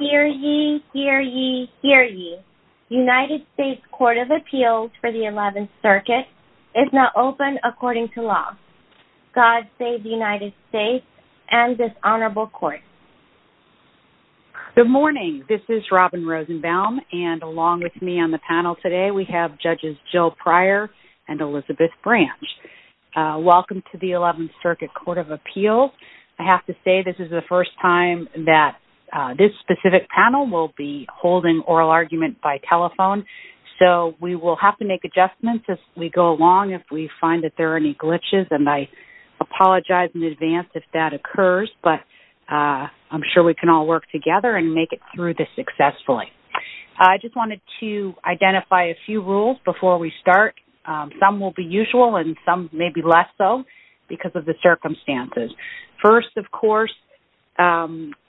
Hear ye, hear ye, hear ye. United States Court of Appeals for the 11th Circuit is now open according to law. God save the United States and this honorable court. Good morning. This is Robin Rosenbaum and along with me on the panel today we have judges Jill Pryor and Elizabeth Branch. Welcome to the 11th Circuit Court of Appeals. I have to say this is the first time that this specific panel will be holding oral argument by telephone so we will have to make adjustments as we go along if we find that there are any glitches and I apologize in advance if that occurs but I'm sure we can all work together and make it through this successfully. I just wanted to identify a few rules before we start. Some will be usual and some maybe less so because of the circumstances. First, of course,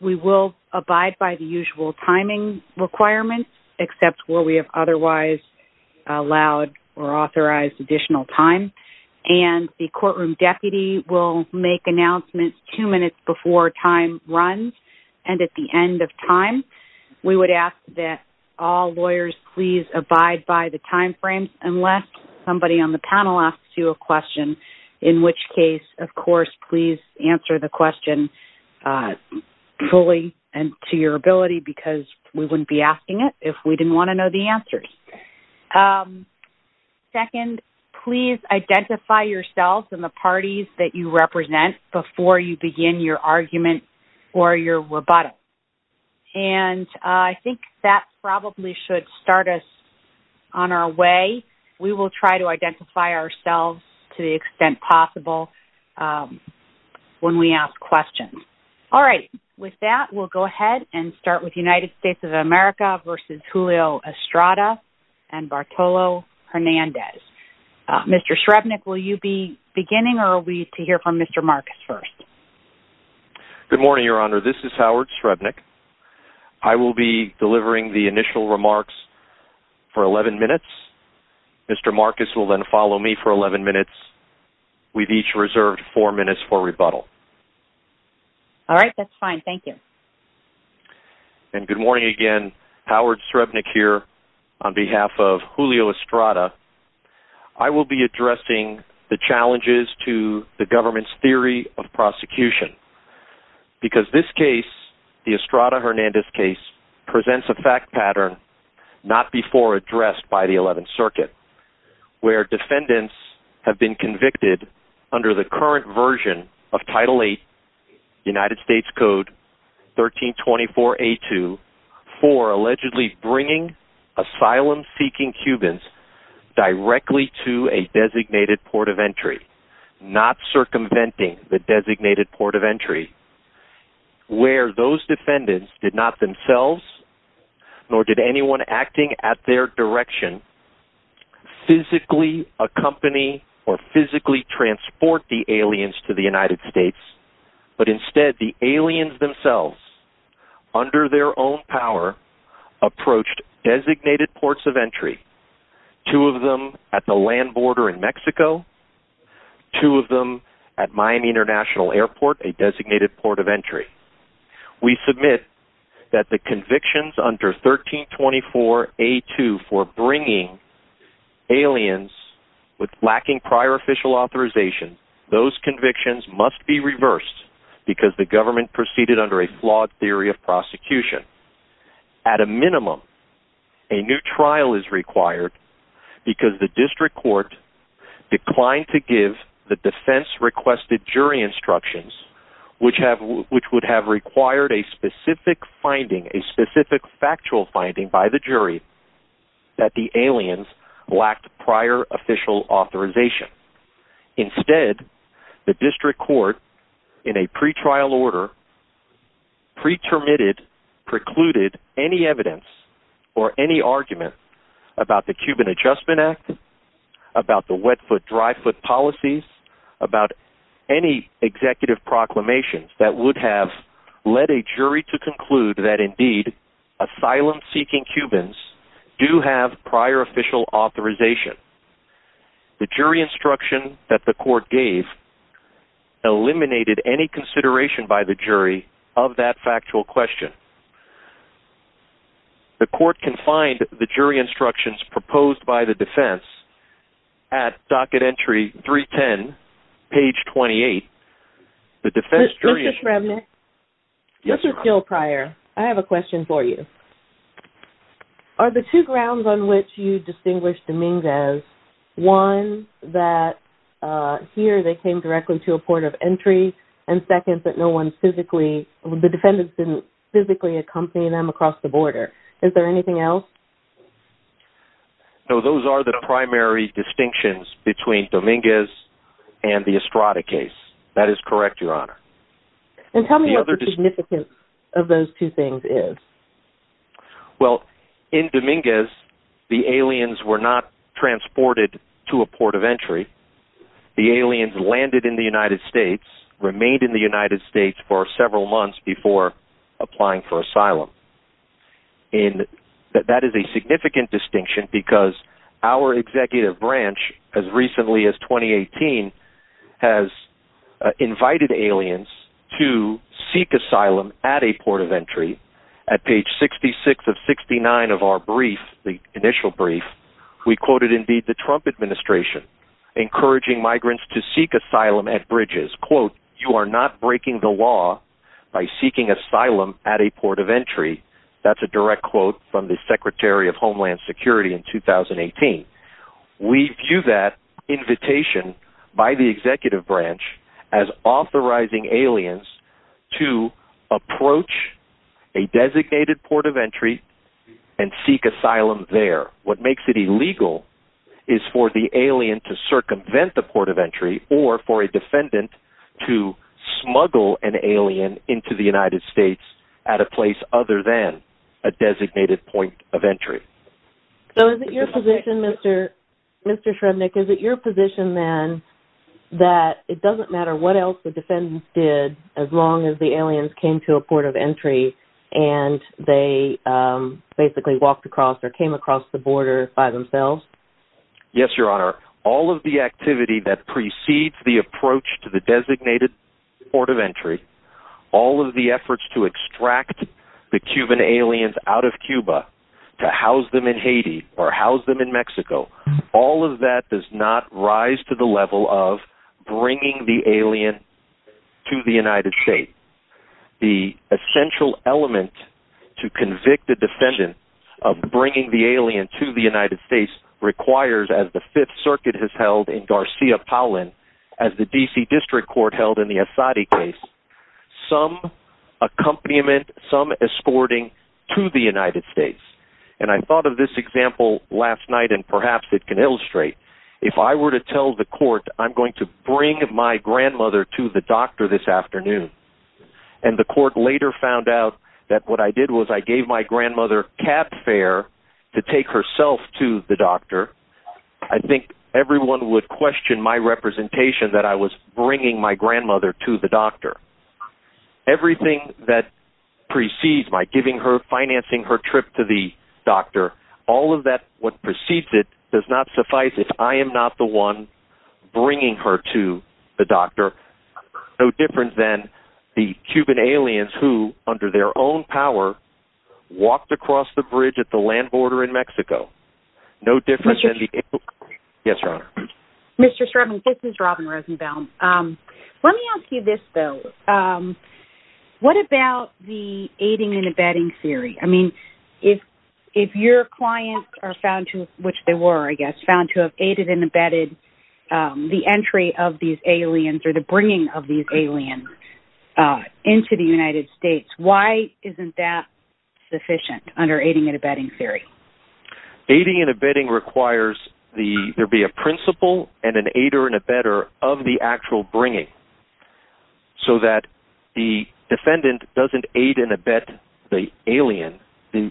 we will abide by the usual timing requirements except where we have otherwise allowed or authorized additional time and the courtroom deputy will make announcements two minutes before time runs and at the end of time. We would ask that all lawyers please abide by the time frame unless somebody on the panel asks you a question in which case, of course, please answer the question fully and to your ability because we wouldn't be asking it if we didn't want to know the answers. Second, please identify yourselves and the parties that you represent before you begin your argument or your rebuttal and I think that probably should start us on our way. We will try to identify ourselves to the extent possible when we ask questions. All right. With that, we will go ahead and start with United States of America versus Julio Estrada and Bartolo Hernandez. Mr. Srebnick, will you be beginning or will we hear from Mr. Marcus first? Good morning, Your Honor. This is Howard Srebnick. I will be delivering the initial remarks for 11 minutes. Mr. Marcus will then follow me for 11 minutes. We've each reserved four minutes for rebuttal. All right. That's fine. Thank you. And good morning again. Howard Srebnick here on behalf of Julio Estrada. I will be addressing the challenges to the government's theory of prosecution. Because this case, the Estrada-Hernandez case, presents a fact pattern not before addressed by the 11th Circuit where defendants have been convicted under the current version of Title VIII United States Code 1324A2 for allegedly bringing asylum-seeking Cubans directly to a designated port of entry, not circumventing the designated port of entry, where those defendants did not themselves nor did anyone acting at their direction physically accompany or physically transport the aliens to the United States, but instead the aliens themselves, under their own power, approached designated ports of entry, two of them at the land border in Mexico, two of them at Miami International Airport, a designated port of entry. We submit that the convictions under 1324A2 for bringing aliens lacking prior official authorization, those convictions must be reversed because the government proceeded under a flawed theory of prosecution. At a minimum, a new trial is required because the district court declined to give the defense requested jury instructions which would have required a specific factual finding by the jury that the aliens lacked prior official authorization. Instead, the district court, in a pretrial order, precluded any evidence or any argument about the Cuban Adjustment Act, about the wet foot, dry foot policies, about any executive proclamations that would have led a jury to conclude that indeed, asylum-seeking Cubans do have prior official authorization. The jury instruction that the court gave eliminated any consideration by the jury of that factual question. The court can find the jury instructions proposed by the defense at Docket Entry 310, page 28. Ms. Remnick, this is Jill Pryor. I have a question for you. Are the two grounds on which you distinguish Dominguez, one, that here they came directly to a port of entry, and second, that the defendants didn't physically accompany them across the border. Is there anything else? No, those are the primary distinctions between Dominguez and the Estrada case. That is correct, Your Honor. And tell me what the significance of those two things is. Well, in Dominguez, the aliens were not transported to a port of entry. The aliens landed in the United States, remained in the United States for several months before applying for asylum. That is a significant distinction because our executive branch, as recently as 2018, has invited aliens to seek asylum at a port of entry. At page 66 of 69 of our brief, the initial brief, we quoted indeed the Trump administration encouraging migrants to seek asylum at bridges. Quote, you are not breaking the law by seeking asylum at a port of entry. That's a direct quote from the Secretary of Homeland Security in 2018. We view that invitation by the executive branch as authorizing aliens to approach a designated port of entry and seek asylum there. What makes it illegal is for the alien to circumvent the port of entry or for a defendant to smuggle an alien into the United States at a place other than a designated point of entry. So is it your position, Mr. Shrednick, is it your position then that it doesn't matter what else the defendants did as long as the aliens came to a port of entry and they basically walked across or came across the border by themselves? Yes, Your Honor. All of the activity that precedes the approach to the designated port of entry, all of the efforts to extract the Cuban aliens out of Cuba, to house them in Haiti or house them in Mexico, all of that does not rise to the level of bringing the alien to the United States. The essential element to convict a defendant of bringing the alien to the United States requires, as the Fifth Circuit has held in Garcia-Paulin, as the D.C. District Court held in the Asadi case, some accompaniment, some escorting to the United States. And I thought of this example last night and perhaps it can illustrate. If I were to tell the court I'm going to bring my grandmother to the doctor this afternoon and the court later found out that what I did was I gave my grandmother cat fare to take herself to the doctor, I think everyone would question my representation that I was bringing my grandmother to the doctor. Everything that precedes my giving her, financing her trip to the doctor, all of that, what precedes it, does not suffice if I am not the one bringing her to the doctor, no different than the Cuban aliens who, under their own power, walked across the bridge at the land border in Mexico. Mr. Sherman, this is Robin Rosenbaum. Let me ask you this, though. What about the aiding and abetting theory? I mean, if your clients are found to, which they were, I guess, found to have aided and abetted the entry of these aliens or the bringing of these aliens into the United States, why isn't that sufficient under aiding and abetting theory? Aiding and abetting requires there be a principle and an aider and abetter of the actual bringing so that the defendant doesn't aid and abet the alien. The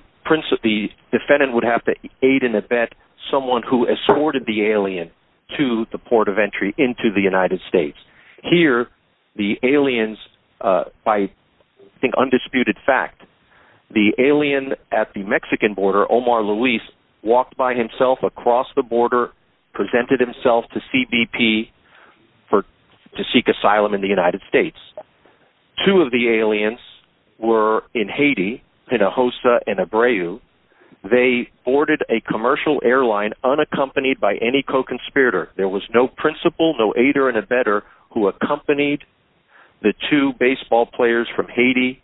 defendant would have to aid and abet someone who escorted the alien to the port of entry into the United States. Here, the aliens, by undisputed fact, the alien at the Mexican border, Omar Luis, walked by himself across the border, presented himself to CBP to seek asylum in the United States. Two of the aliens were in Haiti, in a hosta and a breu. They boarded a commercial airline unaccompanied by any co-conspirator. There was no principle, no aider and abetter who accompanied the two baseball players from Haiti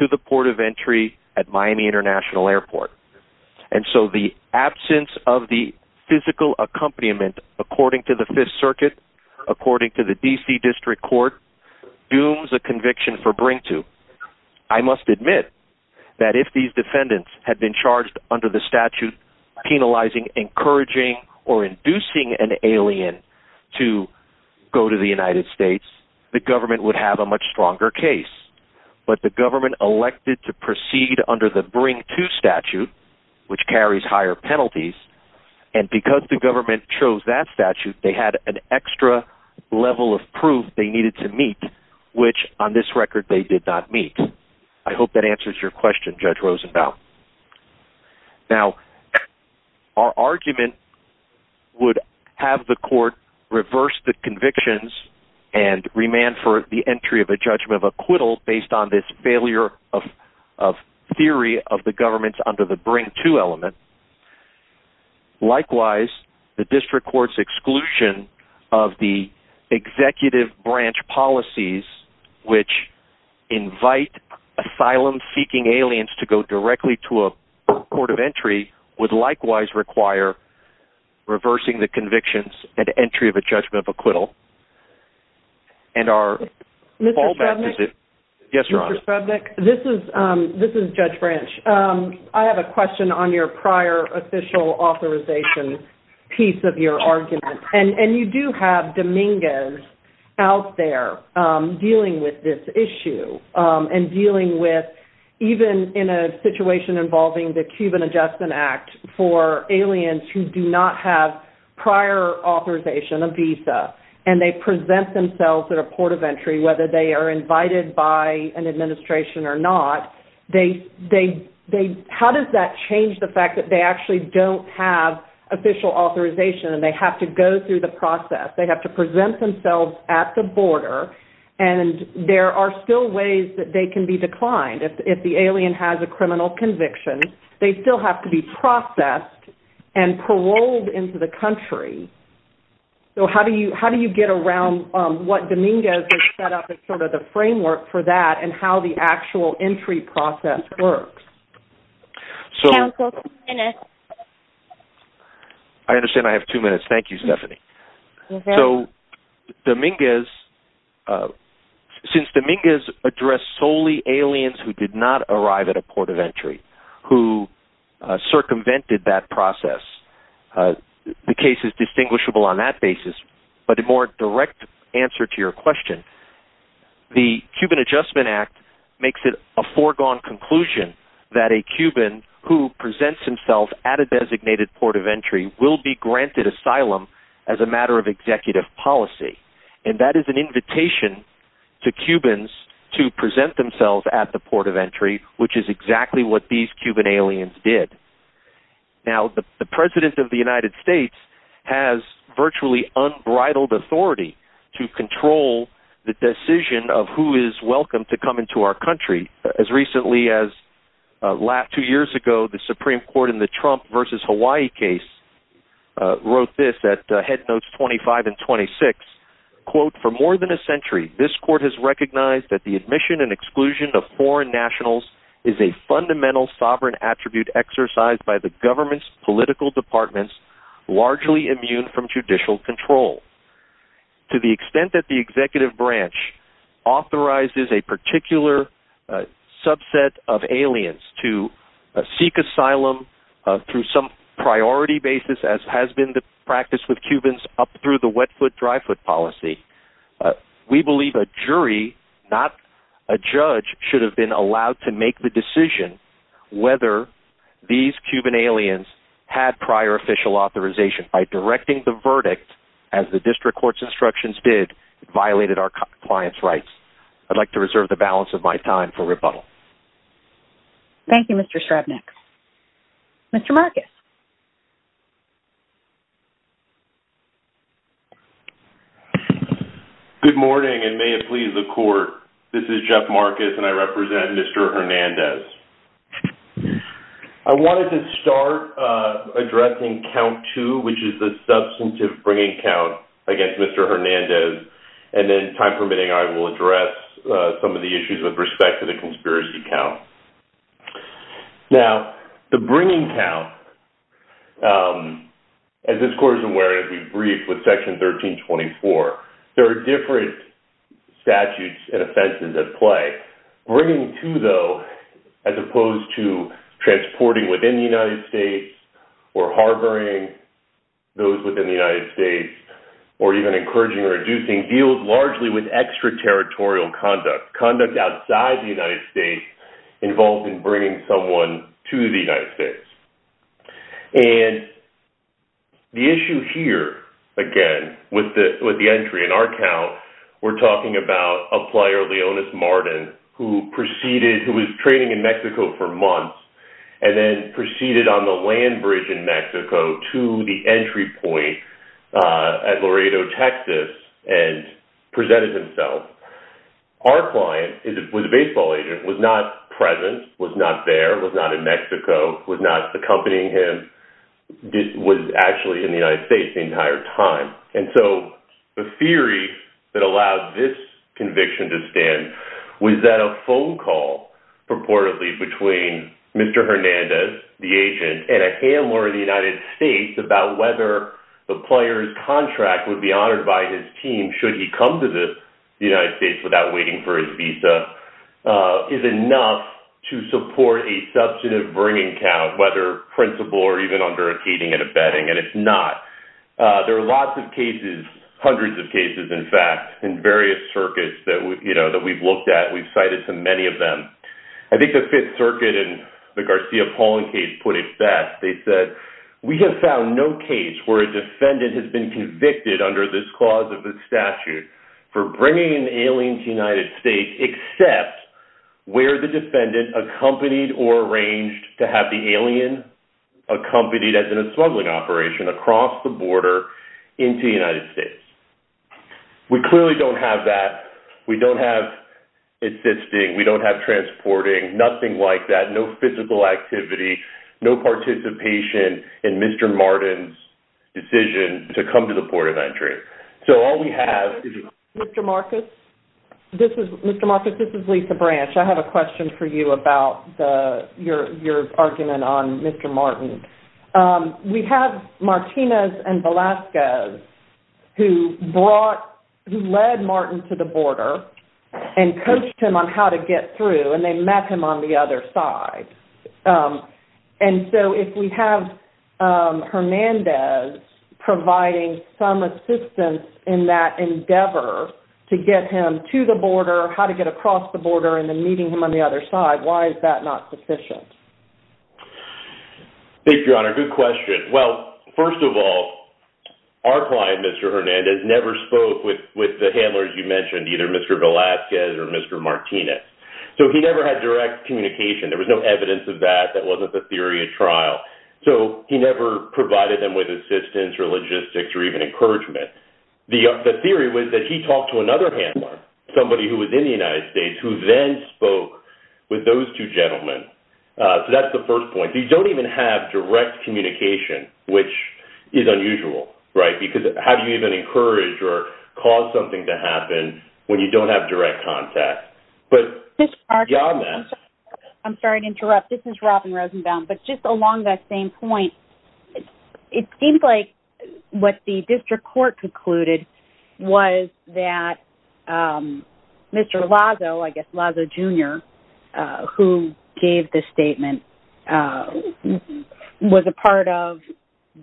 to the port of entry at Miami International Airport. And so the absence of the physical accompaniment, according to the Fifth Circuit, according to the D.C. District Court, dooms a conviction for bring-to. I must admit that if these defendants had been charged under the statute penalizing, encouraging, or inducing an alien to go to the United States, the government would have a much stronger case. But the government elected to proceed under the bring-to statute, which carries higher penalties, and because the government chose that statute, they had an extra level of proof they needed to meet, which, on this record, they did not meet. I hope that answers your question, Judge Rosenbaum. Now, our argument would have the court reverse the convictions and remand for the entry of a judgment of acquittal based on this failure of theory of the government under the bring-to element. Likewise, the District Court's exclusion of the executive branch policies, which invite asylum-seeking aliens to go directly to a port of entry, would likewise require reversing the convictions and entry of a judgment of acquittal. And our fallback position… Yes, Your Honor. …at a port of entry, whether they are invited by an administration or not, how does that change the fact that they actually don't have official authorization and they have to go through the process? They have to present themselves at the border, and there are still ways that they can be declined. If the alien has a criminal conviction, they still have to be processed and paroled into the country. So how do you get around what Dominguez has set up as sort of the framework for that and how the actual entry process works? I understand I have two minutes. Thank you, Stephanie. So since Dominguez addressed solely aliens who did not arrive at a port of entry, who circumvented that process, the case is distinguishable on that basis. But a more direct answer to your question, the Cuban Adjustment Act makes it a foregone conclusion that a Cuban who presents himself at a designated port of entry will be granted asylum as a matter of executive policy. And that is an invitation to Cubans to present themselves at the port of entry, which is exactly what these Cuban aliens did. Now, the President of the United States has virtually unbridled authority to control the decision of who is welcome to come into our country. As recently as two years ago, the Supreme Court in the Trump v. Hawaii case wrote this at Head Notes 25 and 26. Quote, for more than a century, this court has recognized that the admission and exclusion of foreign nationals is a fundamental sovereign attribute exercised by the government's political departments, largely immune from judicial control. To the extent that the executive branch authorizes a particular subset of aliens to seek asylum through some priority basis, as has been the practice with Cubans up through the wet foot, dry foot policy, we believe a jury, not a judge, should have been allowed to make the decision whether these Cuban aliens had prior official authorization. By directing the verdict, as the district court's instructions did, violated our client's rights. I'd like to reserve the balance of my time for rebuttal. Thank you, Mr. Srebnik. Mr. Marcus. Good morning, and may it please the court, this is Jeff Marcus, and I represent Mr. Hernandez. I wanted to start addressing count two, which is the substantive bringing count against Mr. Hernandez. And then, time permitting, I will address some of the issues with respect to the conspiracy count. Now, the bringing count, as this court is aware, as we've briefed with Section 1324, there are different statutes and offenses at play. Bringing two, though, as opposed to transporting within the United States or harboring those within the United States, or even encouraging or inducing, deals largely with extraterritorial conduct, conduct outside the United States, involved in bringing someone to the United States. And the issue here, again, with the entry in our count, we're talking about a flyer, Leonis Martin, who proceeded, who was trading in Mexico for months, and then proceeded on the land bridge in Mexico to the entry point at Laredo, Texas, and presented himself. Our client was a baseball agent, was not present, was not there, was not in Mexico, was not accompanying him, was actually in the United States the entire time. And so, the theory that allowed this conviction to stand was that a phone call, purportedly, between Mr. Hernandez, the agent, and a handler in the United States, about whether the player's contract would be honored by his team should he come to the United States without waiting for his visa, is enough to support a substantive bringing count, whether principal or even under a dating and a bedding, and it's not. There are lots of cases, hundreds of cases, in fact, in various circuits that we've looked at, we've cited so many of them. I think the Fifth Circuit in the Garcia-Paulin case put it best. They said, we have found no case where a defendant has been convicted under this clause of the statute for bringing an alien to the United States except where the defendant accompanied or arranged to have the alien accompanied as in a smuggling operation across the border into the United States. We clearly don't have that. We don't have assisting. We don't have transporting. Nothing like that. No physical activity. No participation in Mr. Martin's decision to come to the port of entry. So, all we have is... Mr. Marcus, this is Lisa Branch. I have a question for you about your argument on Mr. Martin. We have Martinez and Velasquez who led Martin to the border and coached him on how to get through, and they met him on the other side. And so, if we have Hernandez providing some assistance in that endeavor to get him to the border, how to get across the border, and then meeting him on the other side, why is that not sufficient? Thank you, Your Honor. Good question. Well, first of all, our client, Mr. Hernandez, never spoke with the handlers you mentioned, either Mr. Velasquez or Mr. Martinez. So, he never had direct communication. There was no evidence of that. That wasn't the theory of trial. So, he never provided them with assistance or logistics or even encouragement. The theory was that he talked to another handler, somebody who was in the United States, who then spoke with those two gentlemen. So, that's the first point. So, you don't even have direct communication, which is unusual, right? Because how do you even encourage or cause something to happen when you don't have direct contact? But beyond that— I'm sorry to interrupt. This is Robin Rosenbaum. But just along that same point, it seems like what the district court concluded was that Mr. Lazo, I guess Lazo, Jr., who gave this statement, was a part of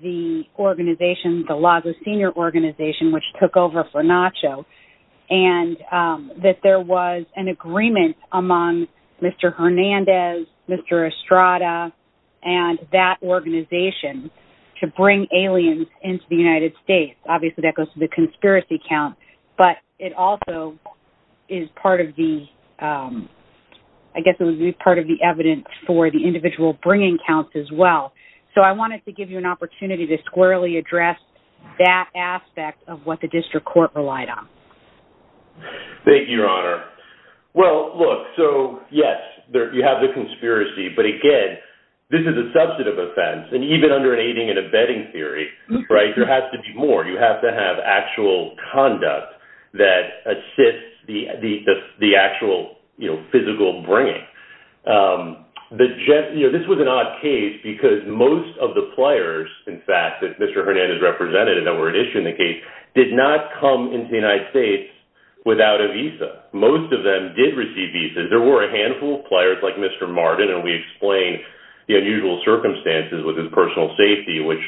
the organization, the Lazo Senior Organization, which took over FONACHO, and that there was an agreement among Mr. Hernandez, Mr. Estrada, and that organization to bring aliens into the United States. Obviously, that goes to the conspiracy count. But it also is part of the—I guess it was part of the evidence for the individual bringing counts as well. So, I wanted to give you an opportunity to squarely address that aspect of what the district court relied on. Thank you, Your Honor. Well, look, so, yes, you have the conspiracy. But, again, this is a substantive offense. And even under an aiding and abetting theory, right, there has to be more. You have to have actual conduct that assists the actual physical bringing. This was an odd case because most of the players, in fact, that Mr. Hernandez represented that were an issue in the case did not come into the United States without a visa. Most of them did receive visas. There were a handful of players like Mr. Martin, and we explained the unusual circumstances with his personal safety, which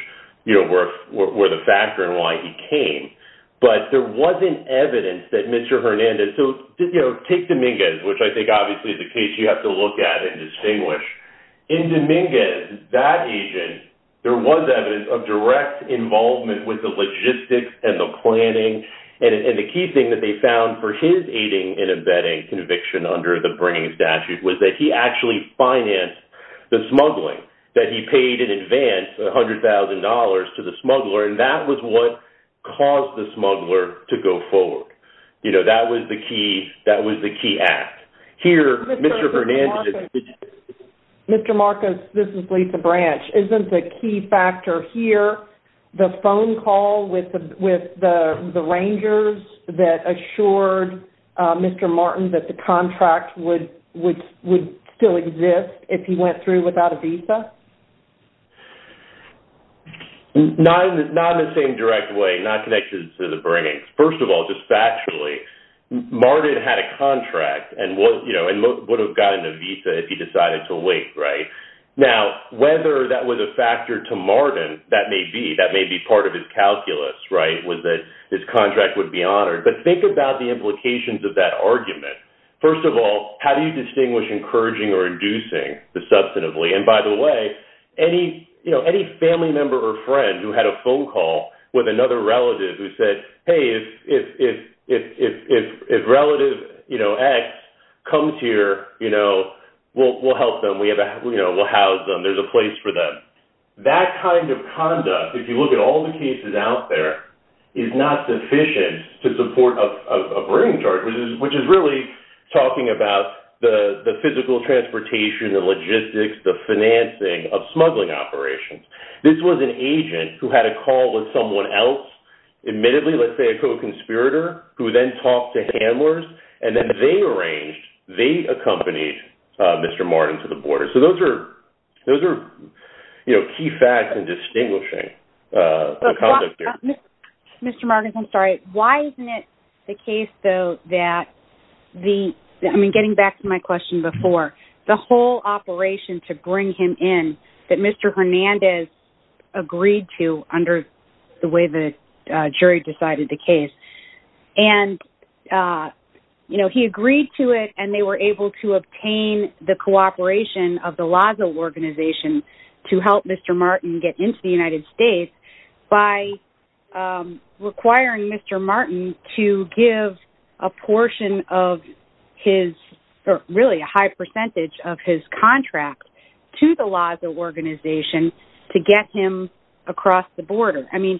were the factor in why he came. But there wasn't evidence that Mr. Hernandez—so, take Dominguez, which I think obviously is a case you have to look at and distinguish. In Dominguez, that agent, there was evidence of direct involvement with the logistics and the planning. And the key thing that they found for his aiding and abetting conviction under the bringing statute was that he actually financed the smuggling, that he paid in advance $100,000 to the smuggler. And that was what caused the smuggler to go forward. You know, that was the key act. Here, Mr. Hernandez— Mr. Marcos, this is Lisa Branch. Isn't the key factor here the phone call with the Rangers that assured Mr. Martin that the contract would still exist if he went through without a visa? Not in the same direct way, not connected to the bringing. First of all, just factually, Martin had a contract and would have gotten a visa if he decided to wait, right? Now, whether that was a factor to Martin, that may be. That may be part of his calculus, right, was that his contract would be honored. But think about the implications of that argument. First of all, how do you distinguish encouraging or inducing substantively? And by the way, any family member or friend who had a phone call with another relative who said, hey, if relative X comes here, we'll help them. We'll house them. There's a place for them. That kind of conduct, if you look at all the cases out there, is not sufficient to support a bringing charge, which is really talking about the physical transportation, the logistics, the financing of smuggling operations. This was an agent who had a call with someone else, admittedly, let's say a co-conspirator, who then talked to handlers. And then they arranged—they accompanied Mr. Martin to the border. So those are, you know, key facts in distinguishing a co-conspirator. Mr. Martins, I'm sorry. Why isn't it the case, though, that the—I mean, getting back to my question before, the whole operation to bring him in that Mr. Hernandez agreed to under the way the jury decided the case. And, you know, he agreed to it, and they were able to obtain the cooperation of the LASA organization to help Mr. Martin get into the United States by requiring Mr. Martin to give a portion of his—or really a high percentage of his contracts to the LASA organization to get him across the border. I mean,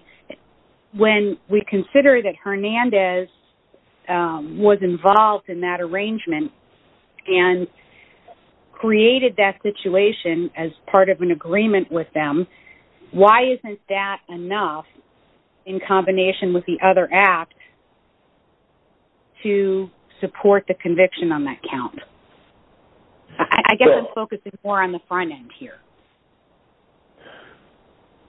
when we consider that Hernandez was involved in that arrangement and created that situation as part of an agreement with them, why isn't that enough, in combination with the other act, to support the conviction on that count? I guess I'm focusing more on the front end here.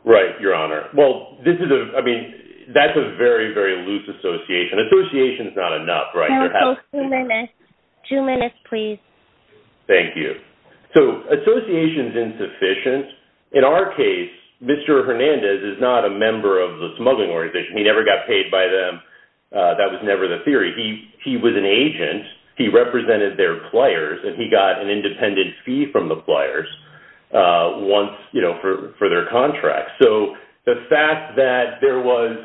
Right, Your Honor. Well, this is a—I mean, that's a very, very loose association. Association is not enough, right? Two minutes. Two minutes, please. Thank you. So association is insufficient. In our case, Mr. Hernandez is not a member of the smuggling organization. He never got paid by them. That was never the theory. He was an agent. He represented their pliers, and he got an independent fee from the pliers. Once, you know, for their contract. So the fact that there was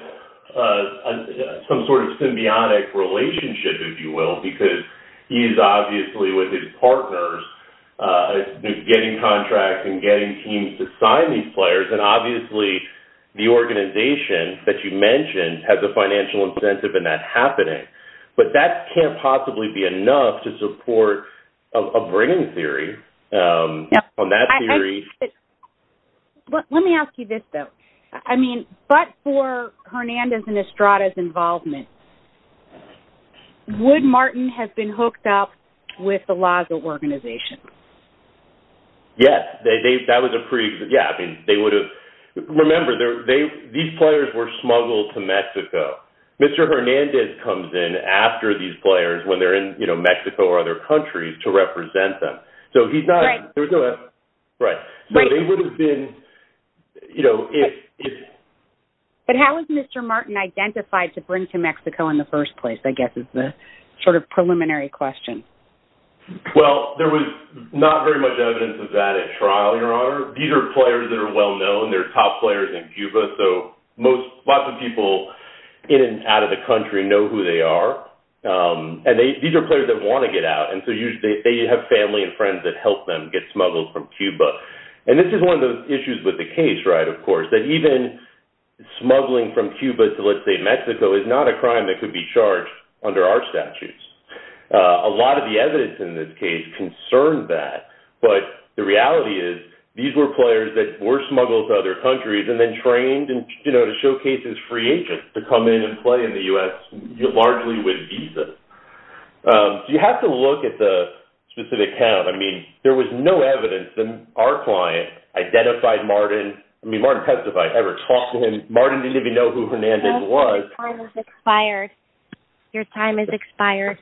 some sort of symbiotic relationship, if you will, because he's obviously with his partners, getting contracts and getting teams to sign these pliers, and obviously the organization that you mentioned has a financial incentive in that happening. But that can't possibly be enough to support a bringing theory on that theory. Let me ask you this, though. I mean, but for Hernandez and Estrada's involvement, would Martin have been hooked up with the Laza organization? Yes. That was a pretty—yeah, I mean, they would have—remember, these pliers were smuggled to Mexico. Mr. Hernandez comes in after these pliers when they're in, you know, Mexico or other countries to represent them. So he's not— Right. Right. So they would have been, you know, if— But how was Mr. Martin identified to bring to Mexico in the first place, I guess, is the sort of preliminary question. Well, there was not very much evidence of that at trial, Your Honor. These are pliers that are well known. They're top pliers in Cuba. So lots of people in and out of the country know who they are. And these are pliers that want to get out. And so they have family and friends that help them get smuggled from Cuba. And this is one of the issues with the case, right, of course, that even smuggling from Cuba to, let's say, Mexico, is not a crime that could be charged under our statutes. A lot of the evidence in this case concerns that. But the reality is these were pliers that were smuggled to other countries and then trained, you know, to showcase as free agents to come in and play in the U.S., largely with visas. So you have to look at the specific count. I mean, there was no evidence that our client identified Martin. I mean, Martin testified. I never talked to him. Martin didn't even know who Hernandez was. Your time has expired. Your time has expired.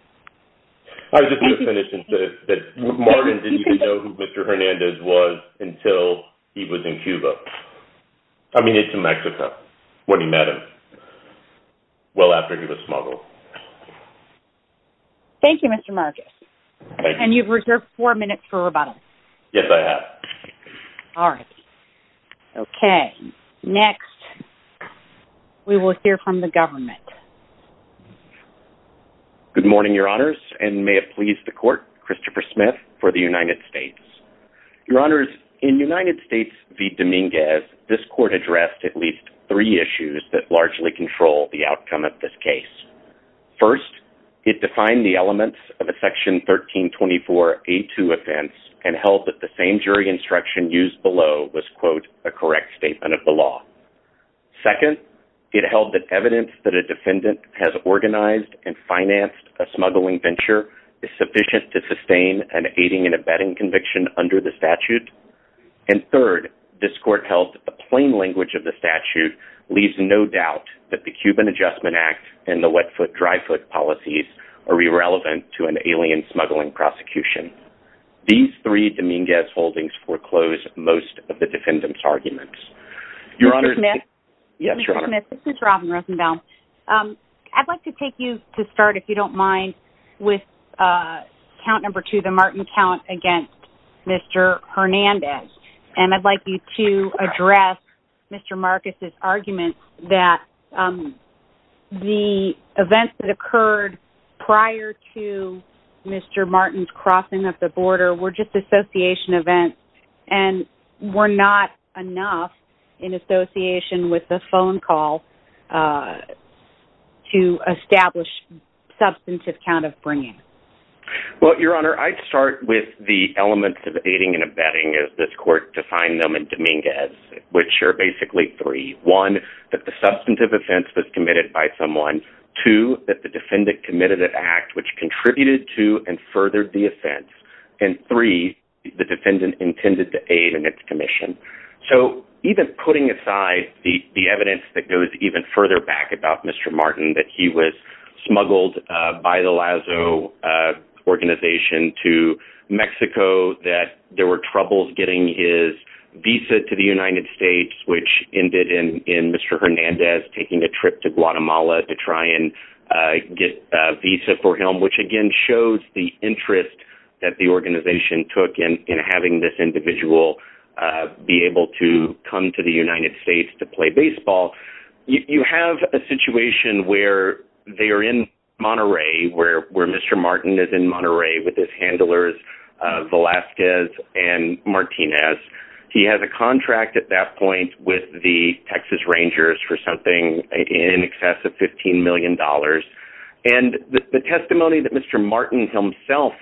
I was just going to finish and say that Martin didn't even know who Mr. Hernandez was until he was in Cuba. I mean, into Mexico, when he met him, well after he was smuggled. Thank you, Mr. Marges. And you've reserved four minutes for rebuttal. Yes, I have. All right. Okay. Next, we will hear from the government. Good morning, Your Honors, and may it please the Court, Christopher Smith for the United States. Your Honors, in United States v. Dominguez, this Court addressed at least three issues that largely control the outcome of this case. First, it defined the elements of a Section 1324A2 offense and held that the same jury instruction used below was, quote, a correct statement of the law. Second, it held that evidence that a defendant has organized and financed a smuggling venture is sufficient to sustain an aiding and abetting conviction under the statute. And third, this Court held that the plain language of the statute leaves no doubt that the Cuban Adjustment Act and the Wet Foot, Dry Foot policies are irrelevant to an alien smuggling prosecution. These three Dominguez holdings foreclose most of the defendant's arguments. Your Honors... Mr. Smith? Yes, Your Honor. Mr. Smith, this is Robin Rosenbaum. I'd like to take you to start, if you don't mind, with count number two, the Martin count against Mr. Hernandez. And I'd like you to address Mr. Marcus' argument that the events that occurred prior to Mr. Martin's crossing of the border were just association events and were not enough in association with the phone call to establish substantive count of bringing. Well, Your Honor, I'd start with the elements of aiding and abetting as this Court defined them in Dominguez, which are basically three. One, that the substantive offense was committed by someone. Two, that the defendant committed an act which contributed to and furthered the offense. And three, the defendant intended to aid in its commission. So even putting aside the evidence that goes even further back about Mr. Martin, that he was smuggled by the LAZO organization to Mexico, that there were troubles getting his visa to the United States, which ended in Mr. Hernandez taking a trip to Guatemala to try and get a visa for him, which again shows the interest that the organization took in having this individual be able to come to the United States to play baseball. You have a situation where they are in Monterey, where Mr. Martin is in Monterey with his handlers Velazquez and Martinez. He has a contract at that point with the Texas Rangers for something in excess of $15 million. And the testimony that Mr. Martin himself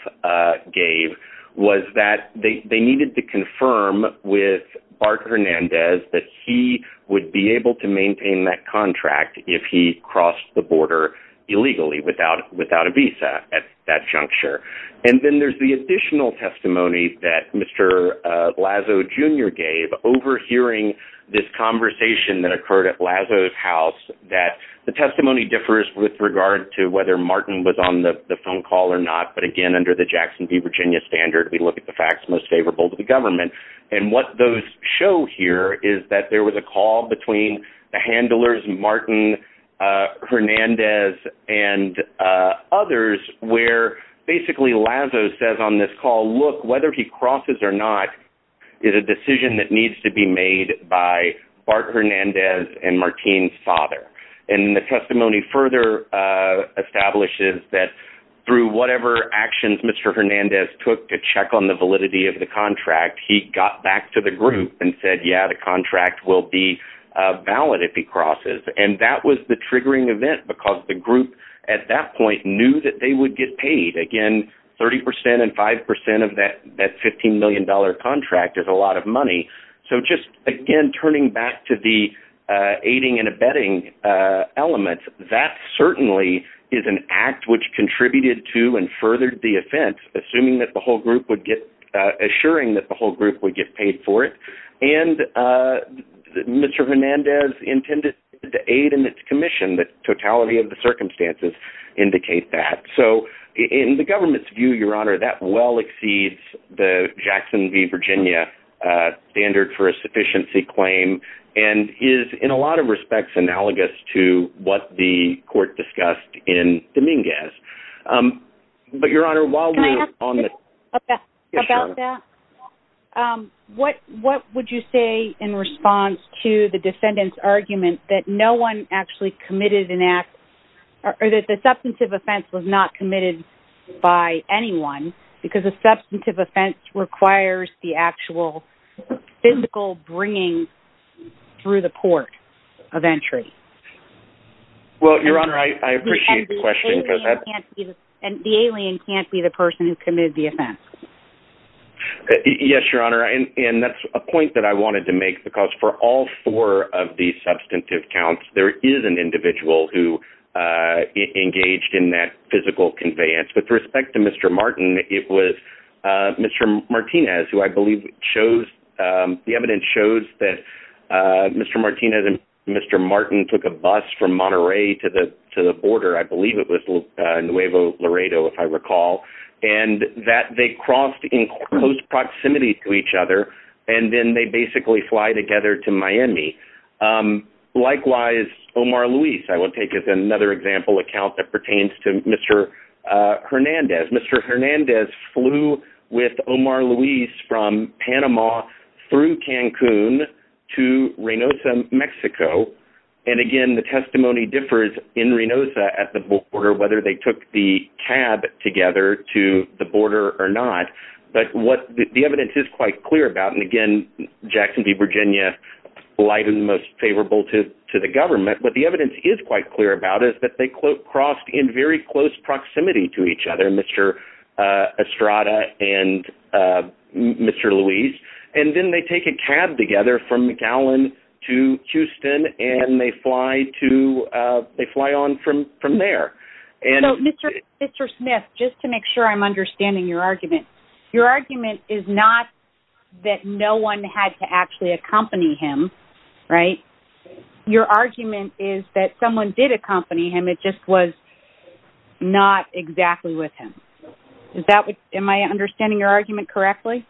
gave was that they needed to confirm with Bart Hernandez that he would be able to maintain that contract if he crossed the border illegally without a visa at that juncture. And then there's the additional testimony that Mr. Lazo Jr. gave overhearing this conversation that occurred at Lazo's house that the testimony differs with regard to whether Martin was on the phone call or not. But again, under the Jackson V Virginia standard, we look at the facts most favorable to the government. And what those show here is that there was a call between the handlers Martin Hernandez and others where basically Lazo says on this call, look, whether he crosses or not is a decision that needs to be made by Bart Hernandez and Martin's father. And the testimony further establishes that through whatever actions Mr. Hernandez took to check on the validity of the contract, he got back to the group and said, yeah, the contract will be valid if he crosses. And that was the triggering event because the group at that point knew that they would get paid. Again, 30% and 5% of that $15 million contract is a lot of money. So just again, turning back to the aiding and abetting elements, that certainly is an act which contributed to and furthered the offense, assuming that the whole group would get, assuring that the whole group would get paid for it. And Mr. Hernandez intended to aid in this commission that totality of the circumstances indicate that. So in the government's view, Your Honor, that well exceeds the Jackson v. Virginia standard for a sufficiency claim and is in a lot of respects analogous to what the court discussed in Dominguez. But Your Honor, what would you say in response to the defendant's argument that no one actually committed an act or that the substantive offense was not committed by anyone because a substantive offense requires the actual physical bringing through the court of entry? Well, Your Honor, I appreciate the question. And the alien can't be the person who committed the offense. Yes, Your Honor. And that's a point that I wanted to make because for all four of the substantive counts, there is an individual who engaged in that physical conveyance. With respect to Mr. Martin, it was Mr. Martinez, who I believe shows, the evidence shows that Mr. Martinez and Mr. Martin took a bus from Monterey to the border. I believe it was Nuevo Laredo, if I recall, and that they crossed in close proximity to each other, and then they basically fly together to Miami. Likewise, Omar Luis, I will take as another example account that pertains to Mr. Hernandez. Mr. Hernandez flew with Omar Luis from Panama through Cancun to Reynosa, Mexico. And again, the testimony differs in Reynosa at the border, whether they took the cab together to the border or not. But what the evidence is quite clear about, and again, Jackson v. Virginia, light and most favorable to the government, what the evidence is quite clear about is that they crossed in very close proximity to each other, Mr. Estrada and Mr. Luis. And then they take a cab together from McAllen to Houston, and they fly on from there. So Mr. Smith, just to make sure I'm understanding your argument, your argument is not that no one had to actually accompany him, right? Your argument is that someone did accompany him, it just was not exactly with him. Am I understanding your argument correctly?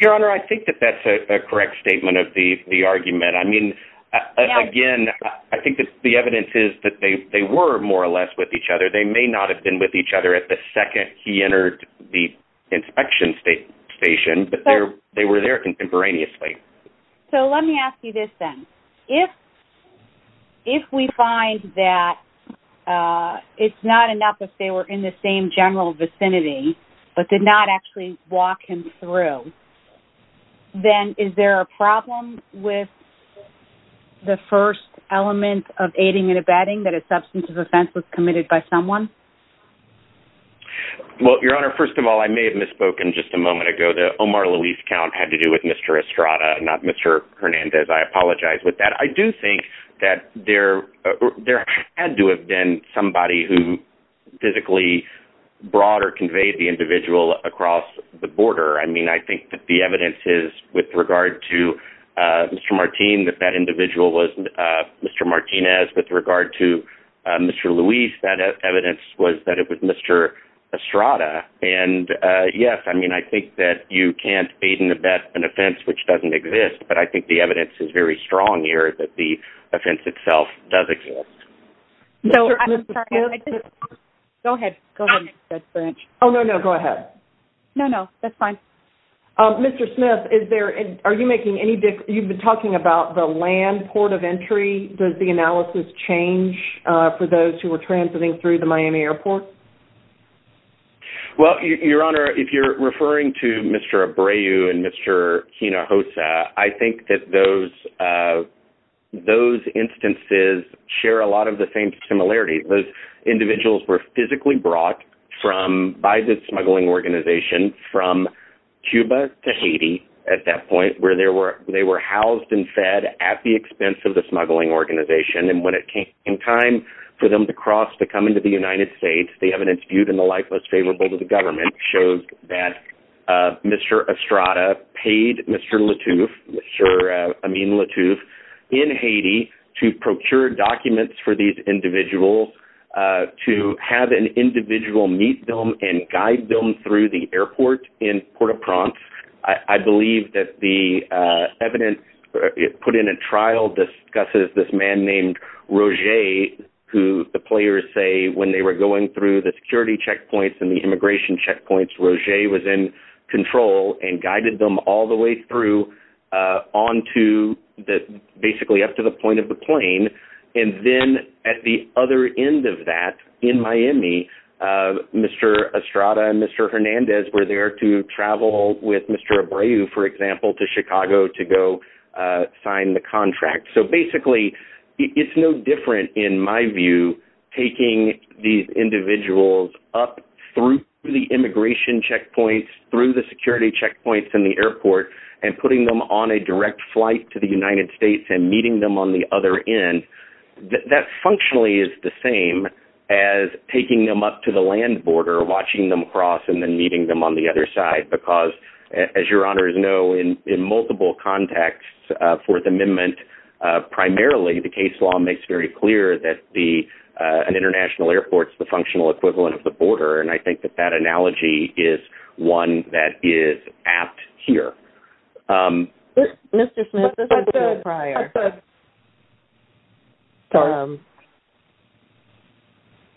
Your Honor, I think that that's a correct statement of the argument. I mean, again, I think the evidence is that they were more or less with each other. They may not have been with each other at the second he entered the inspection station, but they were there contemporaneously. So let me ask you this then. If we find that it's not enough if they were in the same general vicinity, but did not actually walk him through, then is there a problem with the first element of aiding and abetting that a substance of offense was committed by someone? Well, Your Honor, first of all, I may have misspoken just a moment ago that Omar Luis Count had to do with Mr. Estrada, not Mr. Hernandez. I apologize with that. I do think that there had to have been somebody who physically brought or conveyed the individual across the border. I mean, I think that the evidence is with regard to Mr. Martinez, with regard to Mr. Luis, that evidence was that it was Mr. Estrada. And yes, I mean, I think that you can't aid and abet an offense which doesn't exist, but I think the evidence is very strong here that the offense itself does exist. Go ahead. Go ahead. Oh, no, no, go ahead. No, no, that's fine. Mr. Smith, are you making any difference? You've been talking about the land port of entry. Does the analysis change for those who were transiting through the Miami Airport? Well, Your Honor, if you're referring to Mr. Abreu and Mr. Hinojosa, I think that those instances share a lot of the same similarity. Those individuals were physically brought by the smuggling organization from Cuba to Haiti at that point, where they were housed and fed at the expense of the smuggling organization. And when it came time for them to cross to come into the United States, the evidence viewed in the light most favorable to the government showed that Mr. Estrada paid Mr. Latouf, I mean Latouf, in Haiti to procure documents for these individuals to have an individual meet them and guide them through the airport in Port-au-Prince. I believe that the evidence put in a trial discusses this man named Roger, who the players say when they were going through the security checkpoints and the immigration checkpoints, Roger was in control and guided them all the way through on to the basically up to the point of the plane. And then at the other end of that, in Miami, Mr. Estrada and Mr. Hernandez were there to travel with Mr. Abreu, for example, to Chicago to go sign the contract. So basically, it's no different in my view, taking these individuals up through the immigration checkpoints, through the security checkpoints in the airport, and putting them on a direct flight to the United States and meeting them on the other end. That functionally is the same as taking them up to the land border, watching them cross and then meeting them on the other side, because as your honors know, in multiple contexts, Fourth Amendment, primarily the case law makes very clear that an international airport is the functional equivalent of the border. And I think that that analogy is one that is apt here. Mr. Smith, this is Jill Pryor.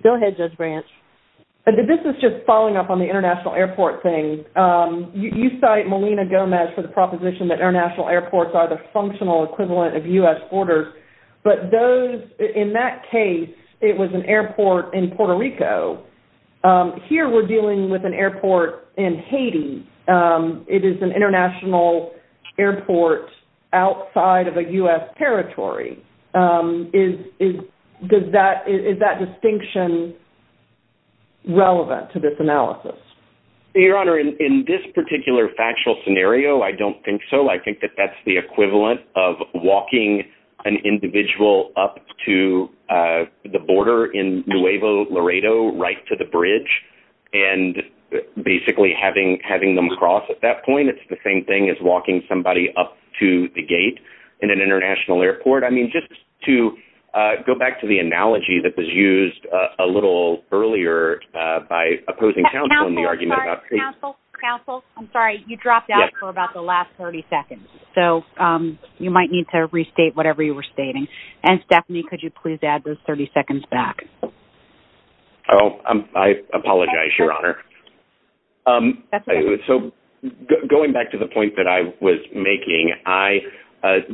Go ahead, Judge Branch. This is just following up on the international airport thing. You cite Melina Gomez for the proposition that international airports are the functional equivalent of U.S. borders, but those – in that case, it was an airport in Puerto Rico. Here, we're dealing with an airport in Haiti. It is an international airport outside of a U.S. territory. Is that distinction relevant to this analysis? Your Honor, in this particular factual scenario, I don't think so. I think that that's the equivalent of walking an individual up to the border in Nuevo Laredo right to the bridge and basically having them cross at that point. It's the same thing as walking somebody up to the gate in an international airport. I mean, just to go back to the analogy that was used a little earlier by opposing counsel in the argument about – Counsel, counsel, counsel, I'm sorry. You dropped out for about the last 30 seconds, so you might need to restate whatever you were stating. And, Stephanie, could you please add those 30 seconds back? Oh, I apologize, Your Honor. So, going back to the point that I was making, I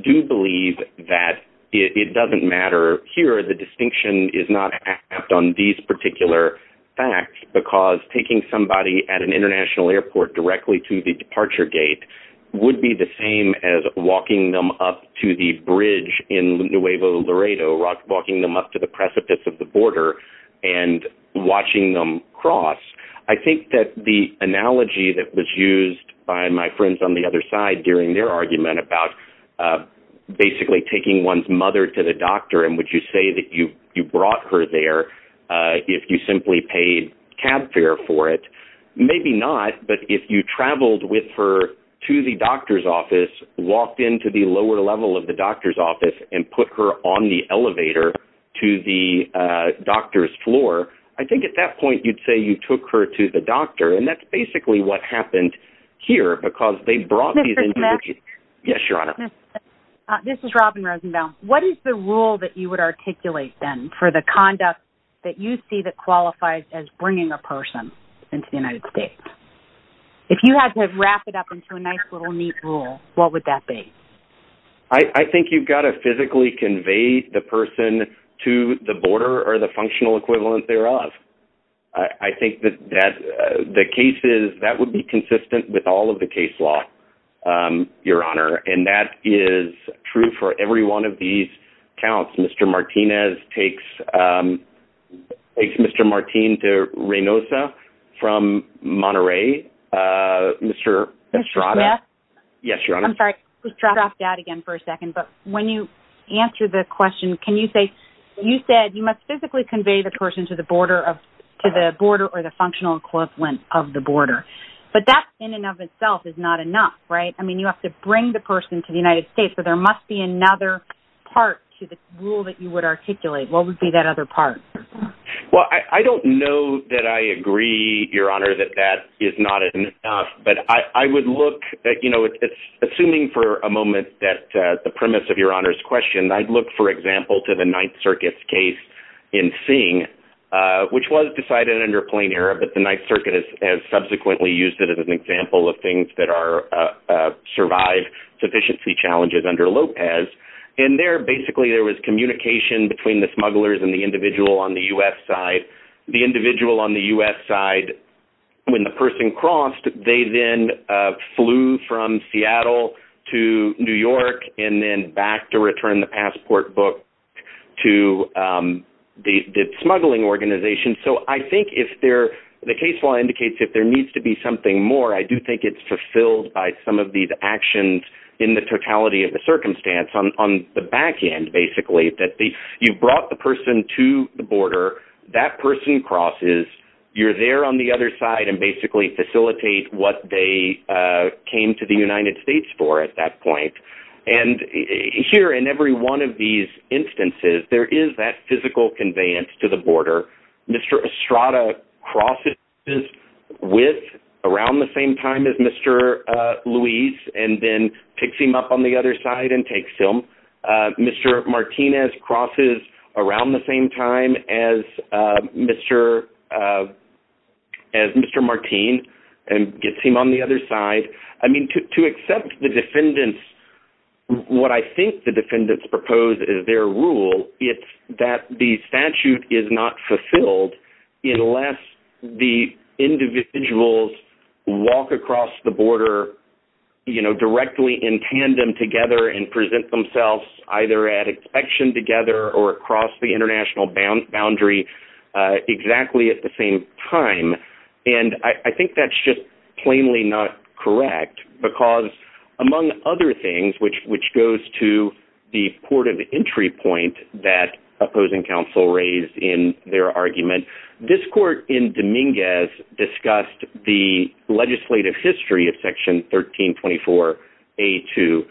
do believe that it doesn't matter. Here, the distinction is not on these particular facts because taking somebody at an international airport directly to the departure gate would be the same as walking them up to the bridge in Nuevo Laredo, walking them up to the precipice of the border and watching them cross. I think that the analogy that was used by my friends on the other side during their argument about basically taking one's mother to the doctor, and would you say that you brought her there if you simply paid cab fare for it? Maybe not, but if you traveled with her to the doctor's office, walked into the lower level of the doctor's office, and put her on the elevator to the doctor's floor, I think at that point you'd say you took her to the doctor, and that's basically what happened here because they brought these individuals. Mr. Knapp? Yes, Your Honor. This is Robin Rosenthal. What is the rule that you would articulate, then, for the conduct that you see that qualifies as bringing a person into the United States? If you had to wrap it up into a nice little neat rule, what would that be? I think you've got to physically convey the person to the border or the functional equivalent thereof. I think that the cases, that would be consistent with all of the case law, Your Honor, and that is true for every one of these counts. Mr. Martinez takes Mr. Martin to Reynosa from Monterey. Yes, Your Honor. I'm sorry. Please drop that again for a second, but when you answer the question, can you say, you said you must physically convey the person to the border or the functional equivalent of the border, but that in and of itself is not enough, right? I mean, you have to bring the person to the United States, so there must be another part to the rule that you would articulate. What would be that other part? Well, I don't know that I agree, Your Honor, that that is not enough, but I would look at, you know, assuming for a moment that the premise of Your Honor's question, I'd look, for example, to the Ninth Circuit's case in Singh, which was decided under Plain Air, but the Ninth Circuit has subsequently used it as an example of things that are, survive sufficiency challenges under Lopez, and there basically there was communication between the smugglers and the individual on the U.S. side. The individual on the U.S. side, when the person crossed, they then flew from Seattle to New York and then back to return the passport book to the smuggling organization. So I think if there, the case law indicates if there needs to be something more, I do think it's fulfilled by some of these actions in the totality of the circumstance on the back end, basically, that you brought the person to the border, that person crosses, you're there on the other side and basically facilitate what they came to the United States for at that point. And here in every one of these instances, there is that physical conveyance to the border. Mr. Estrada crosses with, around the same time as Mr. Luis, and then picks him up on the other side and takes him. Mr. Martinez crosses around the same time as Mr. Martin and gets him on the other side. I mean, to accept the defendants, what I think the defendants propose is their rule, it's that the statute is not fulfilled unless the individuals walk across the border, you know, themselves either at action together or across the international boundary exactly at the same time. And I think that's just plainly not correct because among other things, which goes to the court of entry point that opposing counsel raised in their argument, this court in Dominguez discussed the legislative history of Section 1324A2.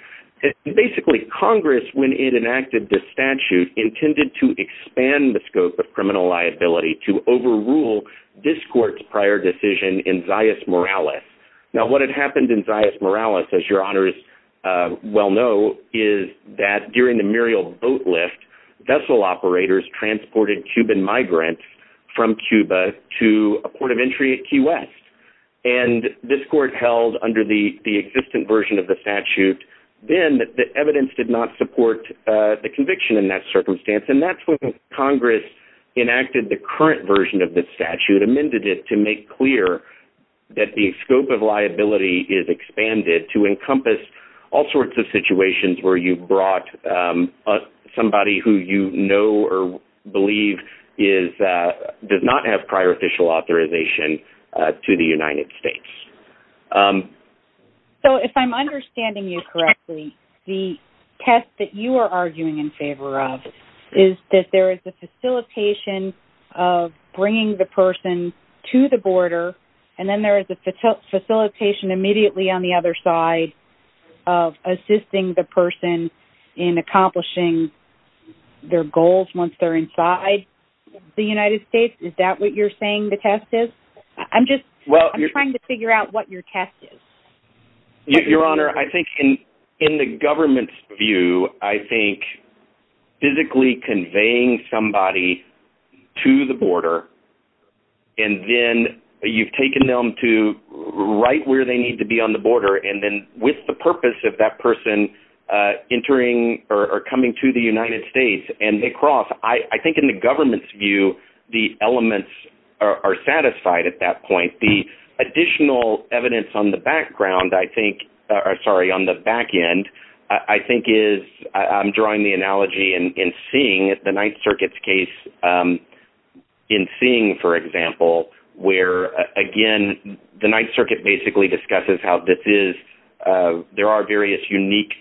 Basically, Congress, when it enacted the statute, intended to expand the scope of criminal liability to overrule this court's prior decision in Zayas-Morales. Now, what had happened in Zayas-Morales, as your honors well know, is that during the Muriel boat lift, vessel operators transported Cuban migrants from Cuba to a port of entry at Key West. And this court held under the existing version of the statute, then the evidence did not support the conviction in that circumstance. And that's when Congress enacted the current version of the statute, amended it to make clear that the scope of liability is expanded to encompass all sorts of situations where you've brought somebody who you know or believe does not have prior official authorization to the United States. So if I'm understanding you correctly, the test that you are arguing in favor of is that there is a facilitation of bringing the person to the border and then there is a facilitation immediately on the other side of assisting the person in accomplishing their goals once they're inside the United States? Is that what you're saying the test is? I'm just trying to figure out what your test is. Your honor, I think in the government's view, I think physically conveying somebody to the border and then you've taken them to right where they need to be on the border and then with the purpose of that person entering or coming to the United States and they cross, I think in the government's view, the elements are satisfied at that point. The additional evidence on the background, I think, sorry, on the back end, I think is I'm drawing the analogy in seeing the Ninth Circuit's case in seeing, for example, where again the Ninth Circuit basically discusses how this is, there are various unique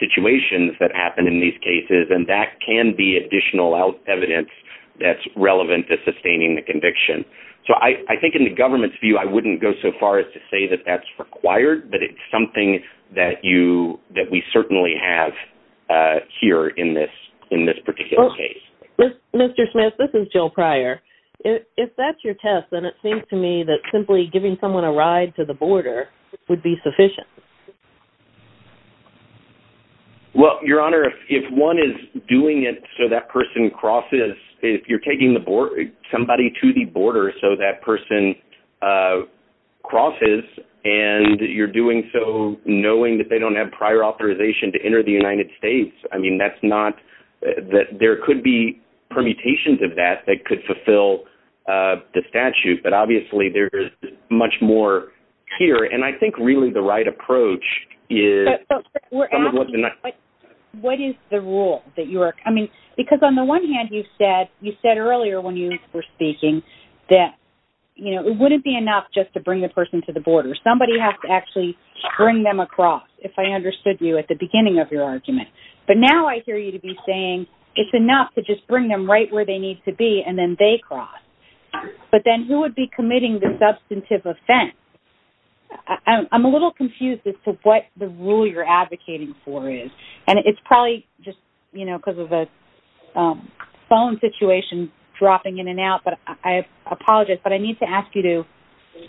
situations that happen in these cases and that can be additional evidence that's relevant to sustaining the conviction. So I think in the government's view, I wouldn't go so far as to say that that's required, but it's something that we certainly have here in this particular case. Mr. Smith, this is Jill Pryor. If that's your test, then it seems to me that simply giving someone a ride to the border would be sufficient. Well, Your Honor, if one is doing it so that person crosses, if you're taking somebody to the border so that person crosses and you're doing so knowing that they don't have prior authorization to enter the United States, I mean that's not, there could be permutations of that that could fulfill the statute, but obviously there is much more here. And I think really the right approach is... We're asking what is the rule that you are coming, because on the one hand you said earlier when you were speaking that it wouldn't be enough just to bring the person to the border. Somebody has to actually bring them across, if I understood you, at the beginning of your argument. But now I hear you to be saying it's enough to just bring them right where they need to be and then they cross. But then who would be committing the substantive offense? I'm a little confused as to what the rule you're advocating for is. And it's probably just, you know, because of a phone situation dropping in and out, but I apologize, but I need to ask you to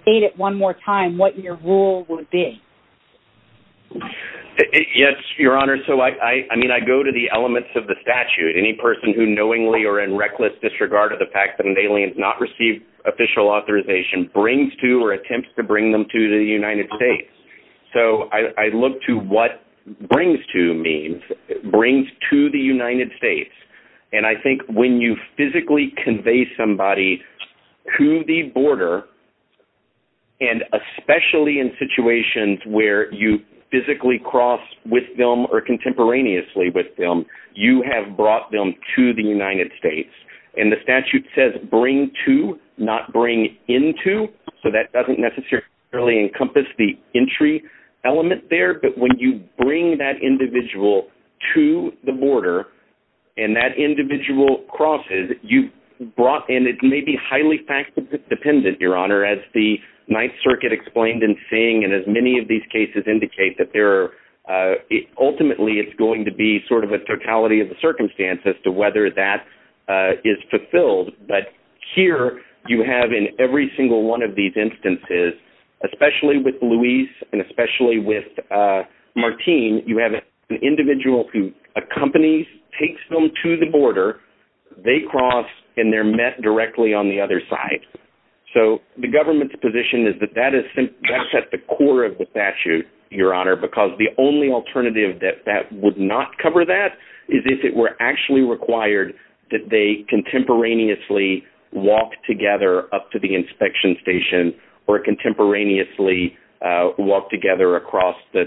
state it one more time, what your rule would be. Yes, Your Honor, so I mean I go to the elements of the statute. Any person who knowingly or in reckless disregard of the fact that an alien has not received official authorization brings to or attempts to bring them to the United States. So I look to what brings to means, brings to the United States. And I think when you physically convey somebody to the border, and especially in situations where you physically cross with them or contemporaneously with them, you have brought them to the United States. And the statute says bring to, not bring into, so that doesn't necessarily encompass the entry element there. But when you bring that individual to the border and that individual crosses, you brought in, and it may be highly factually dependent, Your Honor, as the Ninth Circuit explained in seeing, and as many of these cases indicate, that ultimately it's going to be sort of a totality of the circumstance as to whether that is fulfilled. But here you have in every single one of these instances, especially with Luis and especially with Martine, you have an individual who accompanies, takes them to the border, they cross, and they're met directly on the other side. So the government's position is that that's at the core of the statute, Your Honor, because the only alternative that would not cover that is if it were actually required that they contemporaneously walk together up to the inspection station or contemporaneously walk together across the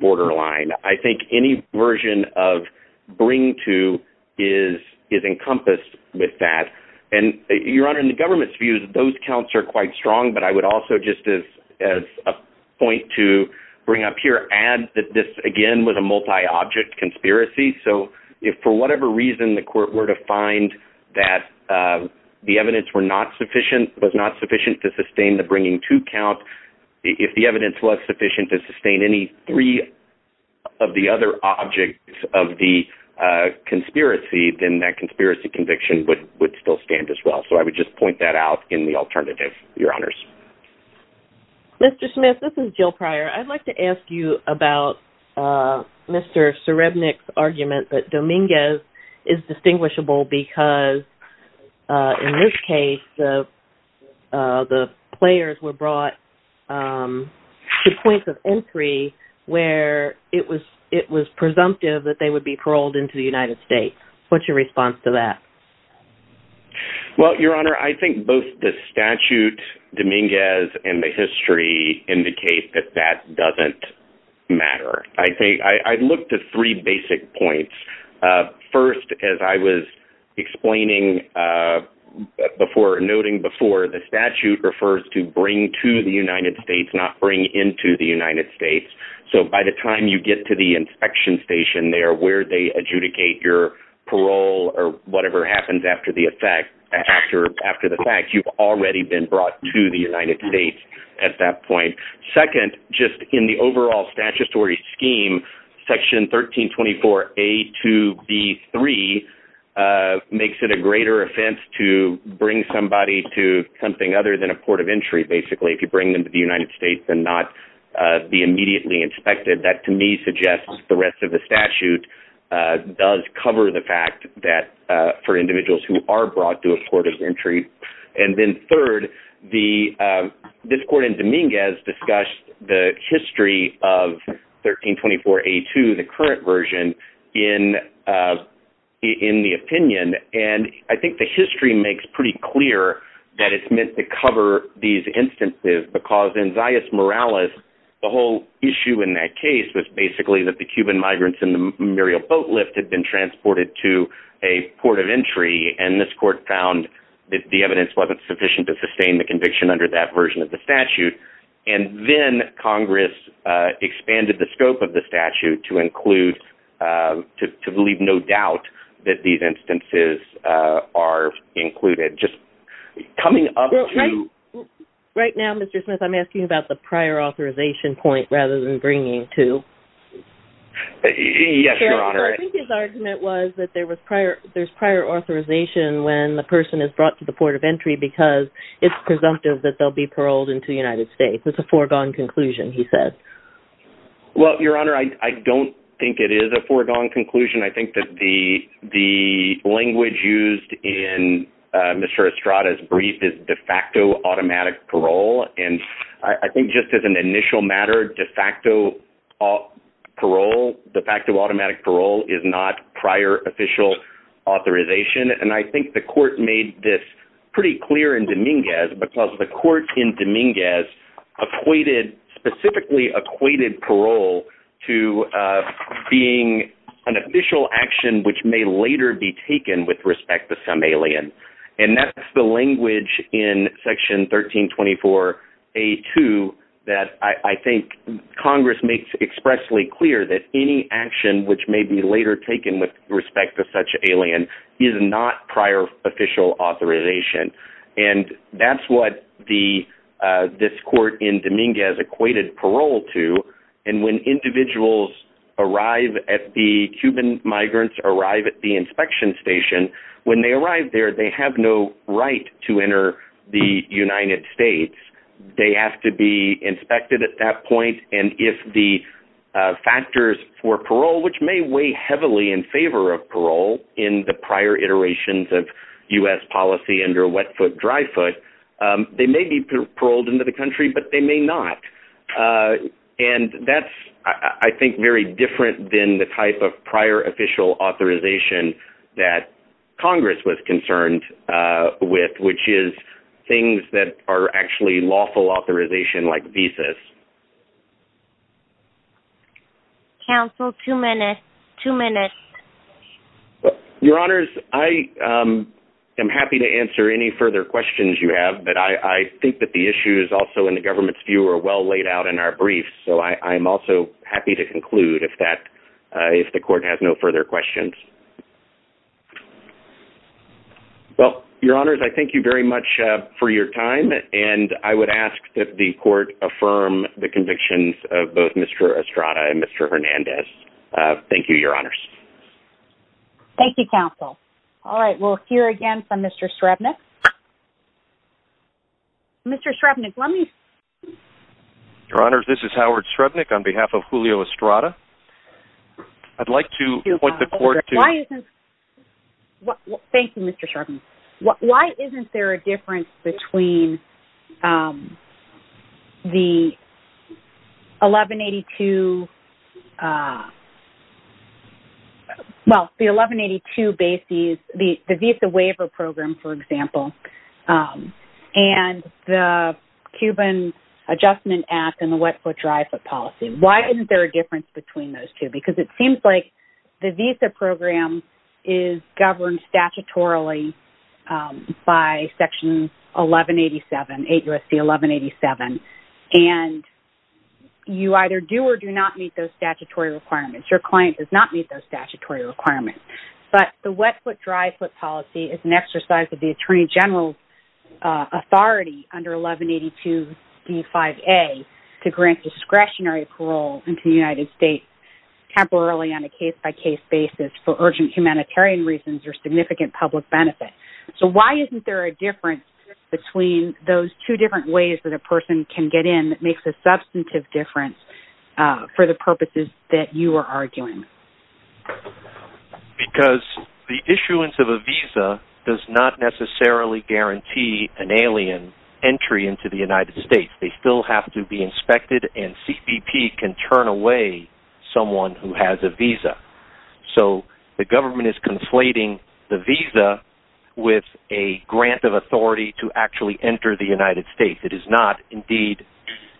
borderline. I think any version of bring to is encompassed with that. And, Your Honor, in the government's views, those counts are quite strong, but I would also just as a point to bring up here add that this, again, was a multi-object conspiracy. So if for whatever reason the court were to find that the evidence was not sufficient to sustain the bringing to count, if the evidence was sufficient to sustain any three of the other objects of the conspiracy, then that conspiracy conviction would still stand as well. So I would just point that out in the alternative, Your Honors. Mr. Smith, this is Jill Pryor. I'd like to ask you about Mr. Srebnick's argument that Dominguez is distinguishable because in this case the players were brought to points of entry where it was presumptive that they would be paroled into the United States. What's your response to that? Well, Your Honor, I think both the statute, Dominguez, and the history indicate that that doesn't matter. I'd look to three basic points. First, as I was explaining before or noting before, the statute refers to bring to the United States, not bring into the United States. So by the time you get to the inspection station there where they adjudicate your parole or whatever happens after the fact, you've already been brought to the United States at that point. Second, just in the overall statutory scheme, Section 1324A2B3 makes it a greater offense to bring somebody to something other than a court of entry, basically. If you bring them to the United States and not be immediately inspected, that to me suggests the rest of the statute does cover the fact that for individuals who are brought to a court of entry. And then third, this court in Dominguez discussed the history of 1324A2, the current version, in the opinion. And I think the history makes pretty clear that it's meant to cover these instances because in Zayas Morales, the whole issue in that case was basically that the Cuban migrants in the Muriel boat lift had been transported to a port of entry, and this court found that the evidence wasn't sufficient to sustain the conviction under that version of the statute. And then Congress expanded the scope of the statute to include, to leave no doubt that these instances are included. Just coming up to... Right now, Mr. Smith, I'm asking about the prior authorization point rather than bringing to. Yes, Your Honor. I think his argument was that there's prior authorization when the person is brought to the port of entry because it's presumptive that they'll be paroled into the United States. It's a foregone conclusion, he said. Well, Your Honor, I don't think it is a foregone conclusion. I think that the language used in Mr. Estrada's brief is de facto automatic parole. And I think just as an initial matter, de facto automatic parole is not prior official authorization. Because the court in Dominguez appointed, specifically acquitted parole to being an official action which may later be taken with respect to some alien. And that's the language in Section 1324A2 that I think Congress makes expressly clear that any action which may be later taken with respect to such alien is not prior official authorization. And that's what this court in Dominguez acquitted parole to. And when individuals arrive at the Cuban migrants, arrive at the inspection station, when they arrive there they have no right to enter the United States. They have to be inspected at that point. And if the factors for parole, which may weigh heavily in favor of parole in the prior iterations of U.S. policy under wet foot, dry foot, they may be paroled into the country, but they may not. And that's, I think, very different than the type of prior official authorization that Congress was concerned with, which is things that are actually lawful authorization like visas. Counsel, two minutes. Your Honors, I am happy to answer any further questions you have, but I think that the issues also in the government's view are well laid out in our brief. So I'm also happy to conclude if the court has no further questions. Well, Your Honors, I thank you very much for your time. And I would ask that the court affirm the convictions of both Mr. Estrada and Mr. Hernandez. Thank you, Your Honors. Thank you, Counsel. All right, we'll hear again from Mr. Srebnik. Mr. Srebnik, why don't you... Your Honors, this is Howard Srebnik on behalf of Julio Estrada. I'd like to point the court to... Why isn't... Thank you, Mr. Srebnik. Why isn't there a difference between the 1182... Well, the 1182 bases, the Visa Waiver Program, for example, and the Cuban Adjustment Act and the Wet Foot Dry Foot Policy? Why isn't there a difference between those two? Because it seems like the Visa Program is governed statutorily by Section 1187, 8 U.S.C. 1187, and you either do or do not meet those statutory requirements. Your client does not meet those statutory requirements. But the Wet Foot Dry Foot Policy is an exercise of the Attorney General's authority under 1182 D5A to grant discretionary parole into the United States temporarily on a case-by-case basis for urgent humanitarian reasons or significant public benefit. So why isn't there a difference between those two different ways that a person can get in that makes a substantive difference for the purposes that you are arguing? Because the issuance of a visa does not necessarily guarantee an alien entry into the United States. They still have to be inspected, and CPP can turn away someone who has a visa. So the government is conflating the visa with a grant of authority to actually enter the United States. It is not. Indeed,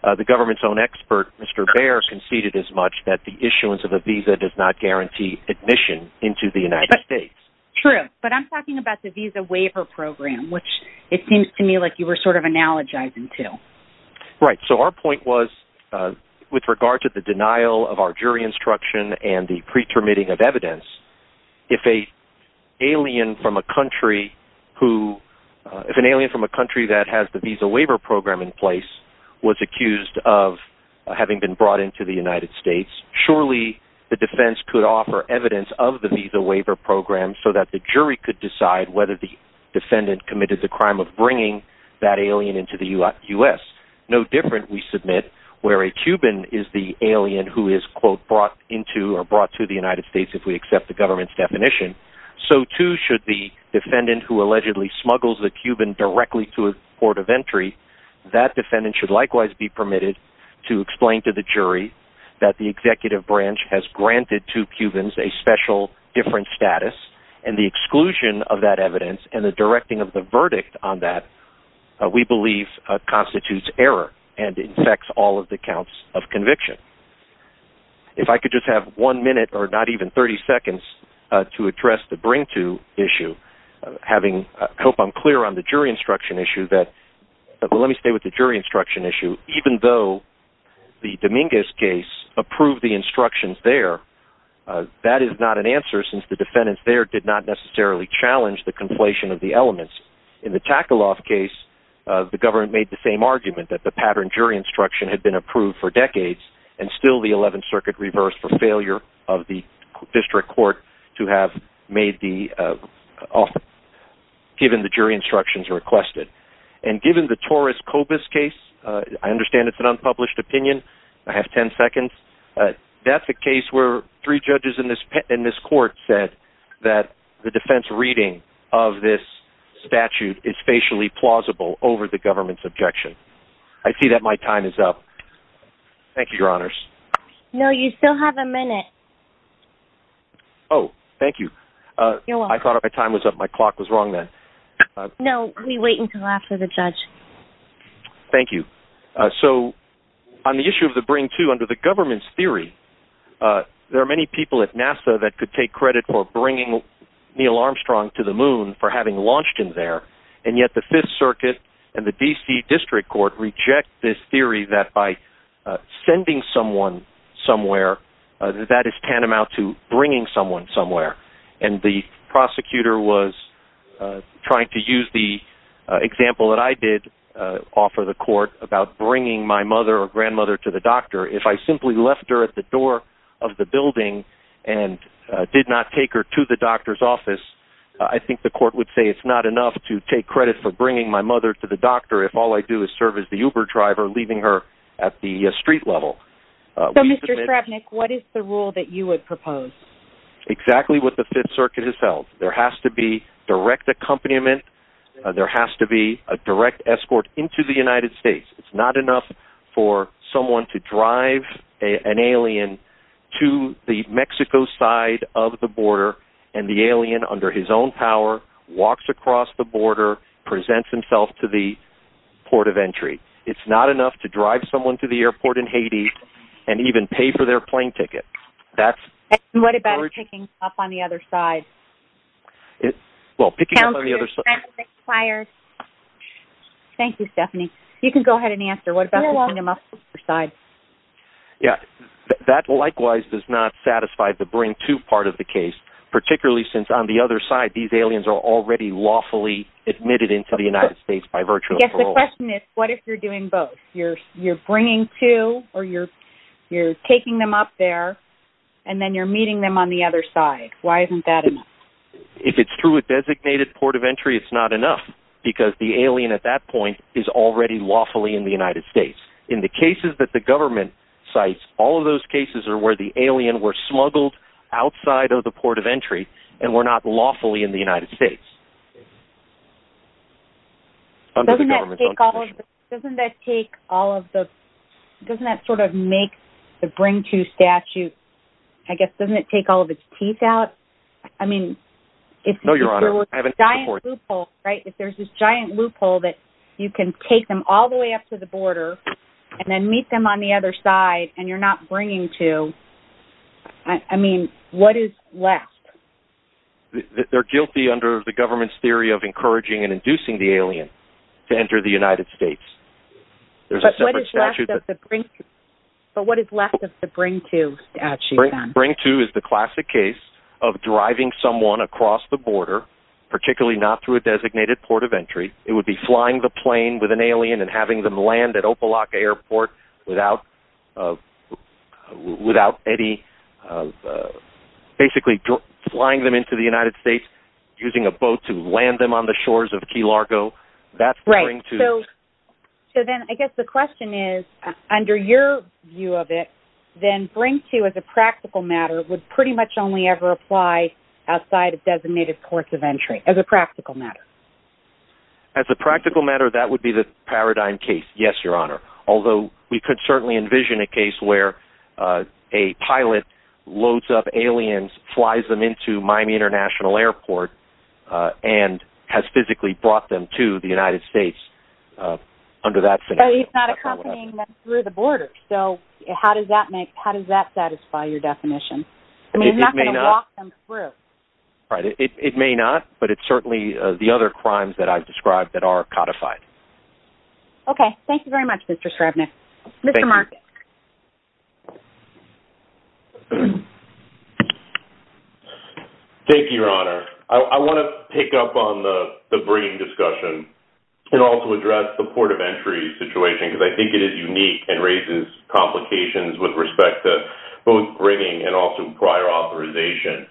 the government's own expert, Mr. Baer, has conceded as much that the issuance of a visa does not guarantee admission into the United States. True. But I'm talking about the Visa Waiver Program, which it seems to me like you were sort of analogizing to. Right. So our point was with regard to the denial of our jury instruction and the pre-permitting of evidence, if an alien from a country that has the Visa Waiver Program in place was accused of having been brought into the United States, surely the defense could offer evidence of the Visa Waiver Program so that the jury could decide whether the defendant committed the crime of bringing that alien into the U.S. No different, we submit, where a Cuban is the alien who is, quote, brought into or brought to the United States if we accept the government's definition. So too should the defendant who allegedly smuggles the Cuban directly to a port of entry. That defendant should likewise be permitted to explain to the jury that the executive branch has granted two Cubans a special different status, and the exclusion of that evidence and the directing of the verdict on that we believe constitutes error and infects all of the counts of conviction. If I could just have one minute, or not even 30 seconds, to address the bring-to issue, having coped unclear on the jury instruction issue, but let me stay with the jury instruction issue. Even though the Dominguez case approved the instructions there, that is not an answer since the defendants there did not necessarily challenge the conflation of the elements. In the Takaloff case, the government made the same argument that the pattern jury instruction had been approved for decades and still the 11th Circuit reversed for failure of the district court to have made the offer given the jury instructions requested. And given the Torres-Cobus case, I understand it's an unpublished opinion, I have 10 seconds, that's a case where three judges in this court said that the defense reading of this statute is facially plausible over the government's objection. I see that my time is up. Thank you, your honors. No, you still have a minute. Oh, thank you. I thought my time was up, my clock was wrong then. No, we wait until after the judge. Thank you. So, on the issue of the bring to under the government's theory, there are many people at NASA that could take credit for bringing Neil Armstrong to the moon for having launched him there, and yet the 5th Circuit and the D.C. District Court reject this theory that by sending someone somewhere, that is tantamount to bringing someone somewhere. And the prosecutor was trying to use the example that I did offer the court about bringing my mother or grandmother to the doctor. If I simply left her at the door of the building and did not take her to the doctor's office, I think the court would say it's not enough to take credit for bringing my mother to the doctor if all I do is serve as the Uber driver, leaving her at the street level. So, Mr. Kravnik, what is the rule that you would propose? Exactly what the 5th Circuit has held. There has to be direct accompaniment. There has to be a direct escort into the United States. It's not enough for someone to drive an alien to the Mexico side of the border, and the alien, under his own power, walks across the border, presents himself to the port of entry. It's not enough to drive someone to the airport in Haiti and even pay for their plane ticket. What about picking up on the other side? Thank you, Stephanie. You can go ahead and answer. What about picking them up on the other side? Yes, that likewise does not satisfy the bring-to part of the case, particularly since on the other side, these aliens are already lawfully admitted into the United States by virtue of parole. Yes, the question is, what if you're doing both? You're bringing two, or you're taking them up there, and then you're meeting them on the other side. Why isn't that enough? If it's through a designated port of entry, it's not enough, because the alien at that point is already lawfully in the United States. In the cases that the government cites, all of those cases are where the alien were smuggled outside of the port of entry and were not lawfully in the United States. Doesn't that sort of make the bring-to statute, I guess, doesn't it take all of its teeth out? I mean, if there was a giant loophole, right, if there's this giant loophole that you can take them all the way up to the border and then meet them on the other side, and you're not bringing two, I mean, what is left? They're guilty under the government's theory of encouraging and inducing the alien to enter the United States. But what is left of the bring-to statute? Bring-to is the classic case of driving someone across the border, particularly not through a designated port of entry. It would be flying the plane with an alien and having them land at Opelok Airport without any, basically flying them into the United States, using a boat to land them on the shores of Key Largo. Right. So then I guess the question is, under your view of it, then bring-to as a practical matter would pretty much only ever apply outside of designated ports of entry as a practical matter. As a practical matter, that would be the paradigm case, yes, Your Honor. Although we could certainly envision a case where a pilot loads up aliens, flies them into Miami International Airport, and has physically brought them to the United States under that scenario. But he's not accompanying them through the border, so how does that satisfy your definition? I mean, he's not going to walk them through. It may not, but it's certainly the other crimes that I've described that are codified. Okay. Thank you very much, Mr. Srebnick. Thank you. Thank you, Your Honor. I want to pick up on the bringing discussion and also address the port of entry situation, because I think it is unique and raises complications with respect to both bringing and also prior authorization.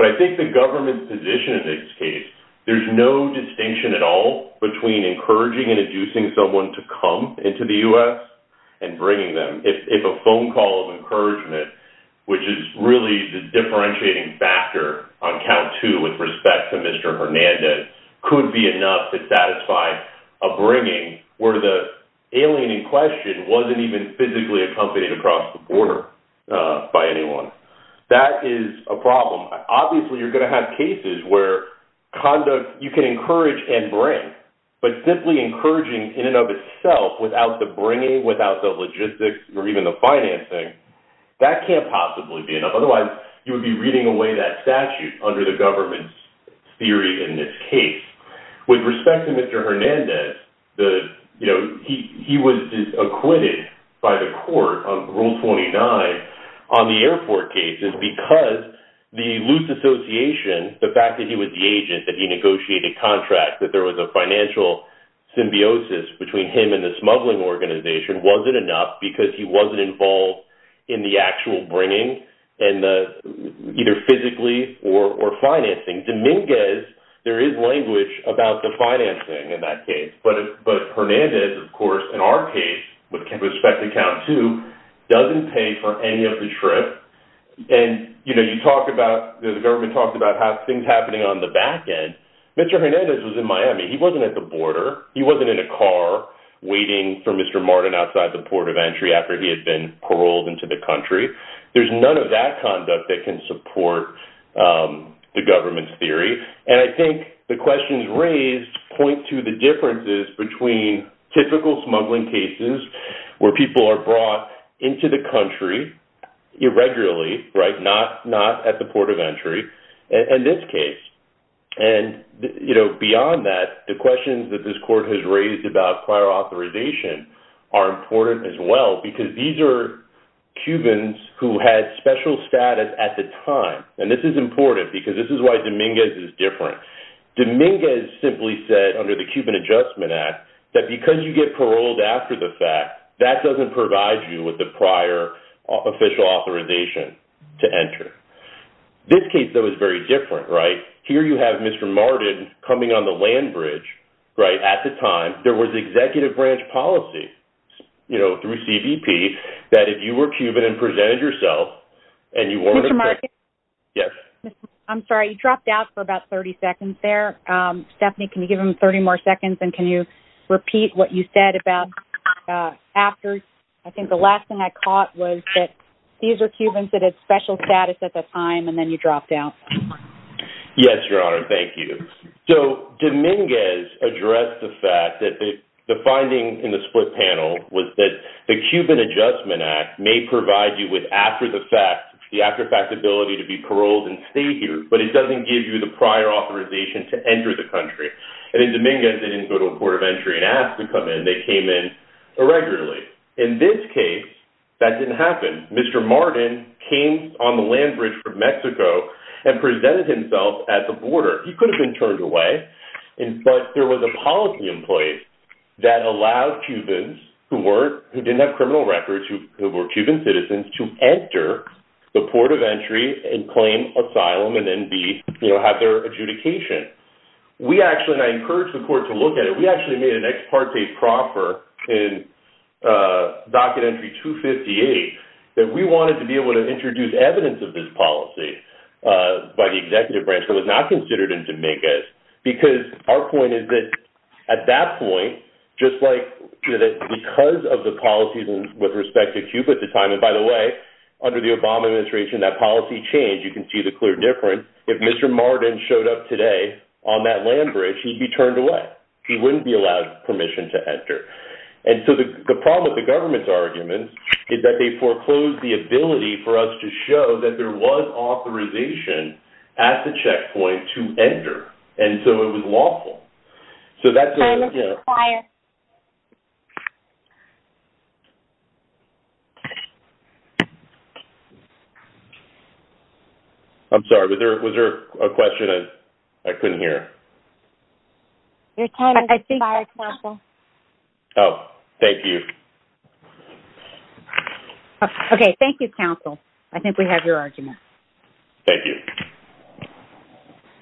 But I think the government's position in this case, there's no distinction at all between encouraging and inducing someone to come into the U.S. and bringing them. If a phone call of encouragement, which is really the differentiating factor on count two with respect to Mr. Hernandez, couldn't be enough to satisfy a bringing where the alien in question wasn't even physically accompanied across the border by anyone. That is a problem. Obviously, you're going to have cases where you can encourage and bring, but simply encouraging in and of itself without the bringing, without the logistics or even the financing, that can't possibly be enough. Otherwise, you would be reading away that statute under the government's theory in this case. With respect to Mr. Hernandez, he was acquitted by the court on Rule 29 on the airport, because the loose association, the fact that he was the agent, that he negotiated contracts, that there was a financial symbiosis between him and the smuggling organization, wasn't enough because he wasn't involved in the actual bringing, either physically or financing. Dominguez, there is language about the financing in that case. But Hernandez, of course, in our case with respect to count two, doesn't pay for any of the trip. The government talked about things happening on the back end. Mr. Hernandez was in Miami. He wasn't at the border. He wasn't in a car waiting for Mr. Martin outside the port of entry after he had been paroled into the country. There's none of that conduct that can support the government's theory. And I think the questions raised point to the differences between typical smuggling cases where people are brought into the country, irregularly, not at the port of entry and this case. And beyond that, the questions that this court has raised about prior authorization are important as well, because these are Cubans who had special status at the time. And this is important because this is why Dominguez is different. Dominguez simply said under the Cuban Adjustment Act, that because you get paroled after the fact, that doesn't provide you with the prior official authorization to enter. This case, though, is very different, right? Here you have Mr. Martin coming on the land bridge, right, at the time. There was executive branch policy, you know, through CBP that if you were Cuban and presented yourself and you weren't. Yes. I'm sorry. You dropped out for about 30 seconds there. Stephanie, can you give him 30 more seconds? And can you repeat what you said about after? I think the last thing I caught was that these are Cubans that had special status at the time and then you dropped out. Yes, Your Honor. Thank you. So Dominguez addressed the fact that the finding in the split panel was that the Cuban Adjustment Act may provide you with after the fact, the after facts ability to be paroled and stay here, but it doesn't give you the prior authorization to enter the country. And then Dominguez didn't go to a port of entry and ask to come in. They came in irregularly. In this case, that didn't happen. Mr. Martin came on the land bridge from Mexico and presented himself at the border. He could have been turned away, but there was a policy in place that allowed Cubans who didn't have criminal records, who were Cuban citizens, to enter the port of entry and claim asylum and then have their adjudication. We actually, and I encourage the court to look at it, we actually made an ex parte proffer in Docket Entry 258, that we wanted to be able to introduce evidence of this policy by the executive branch, but it was not considered in Dominguez. Because our point is that at that point, just like because of the policies with respect to Cuba at the time, and by the way, under the Obama administration, that policy changed. You can see the clear difference. If Mr. Martin showed up today on that land bridge, he'd be turned away. He wouldn't be allowed permission to enter. And so the problem with the government's argument is that they foreclosed the ability for us to show that there was authorization at the checkpoint to enter. And so it was lawful. So that's. I'm sorry. Was there a question? I couldn't hear. Oh, thank you. Okay. Thank you counsel. I think we have your argument. Thank you.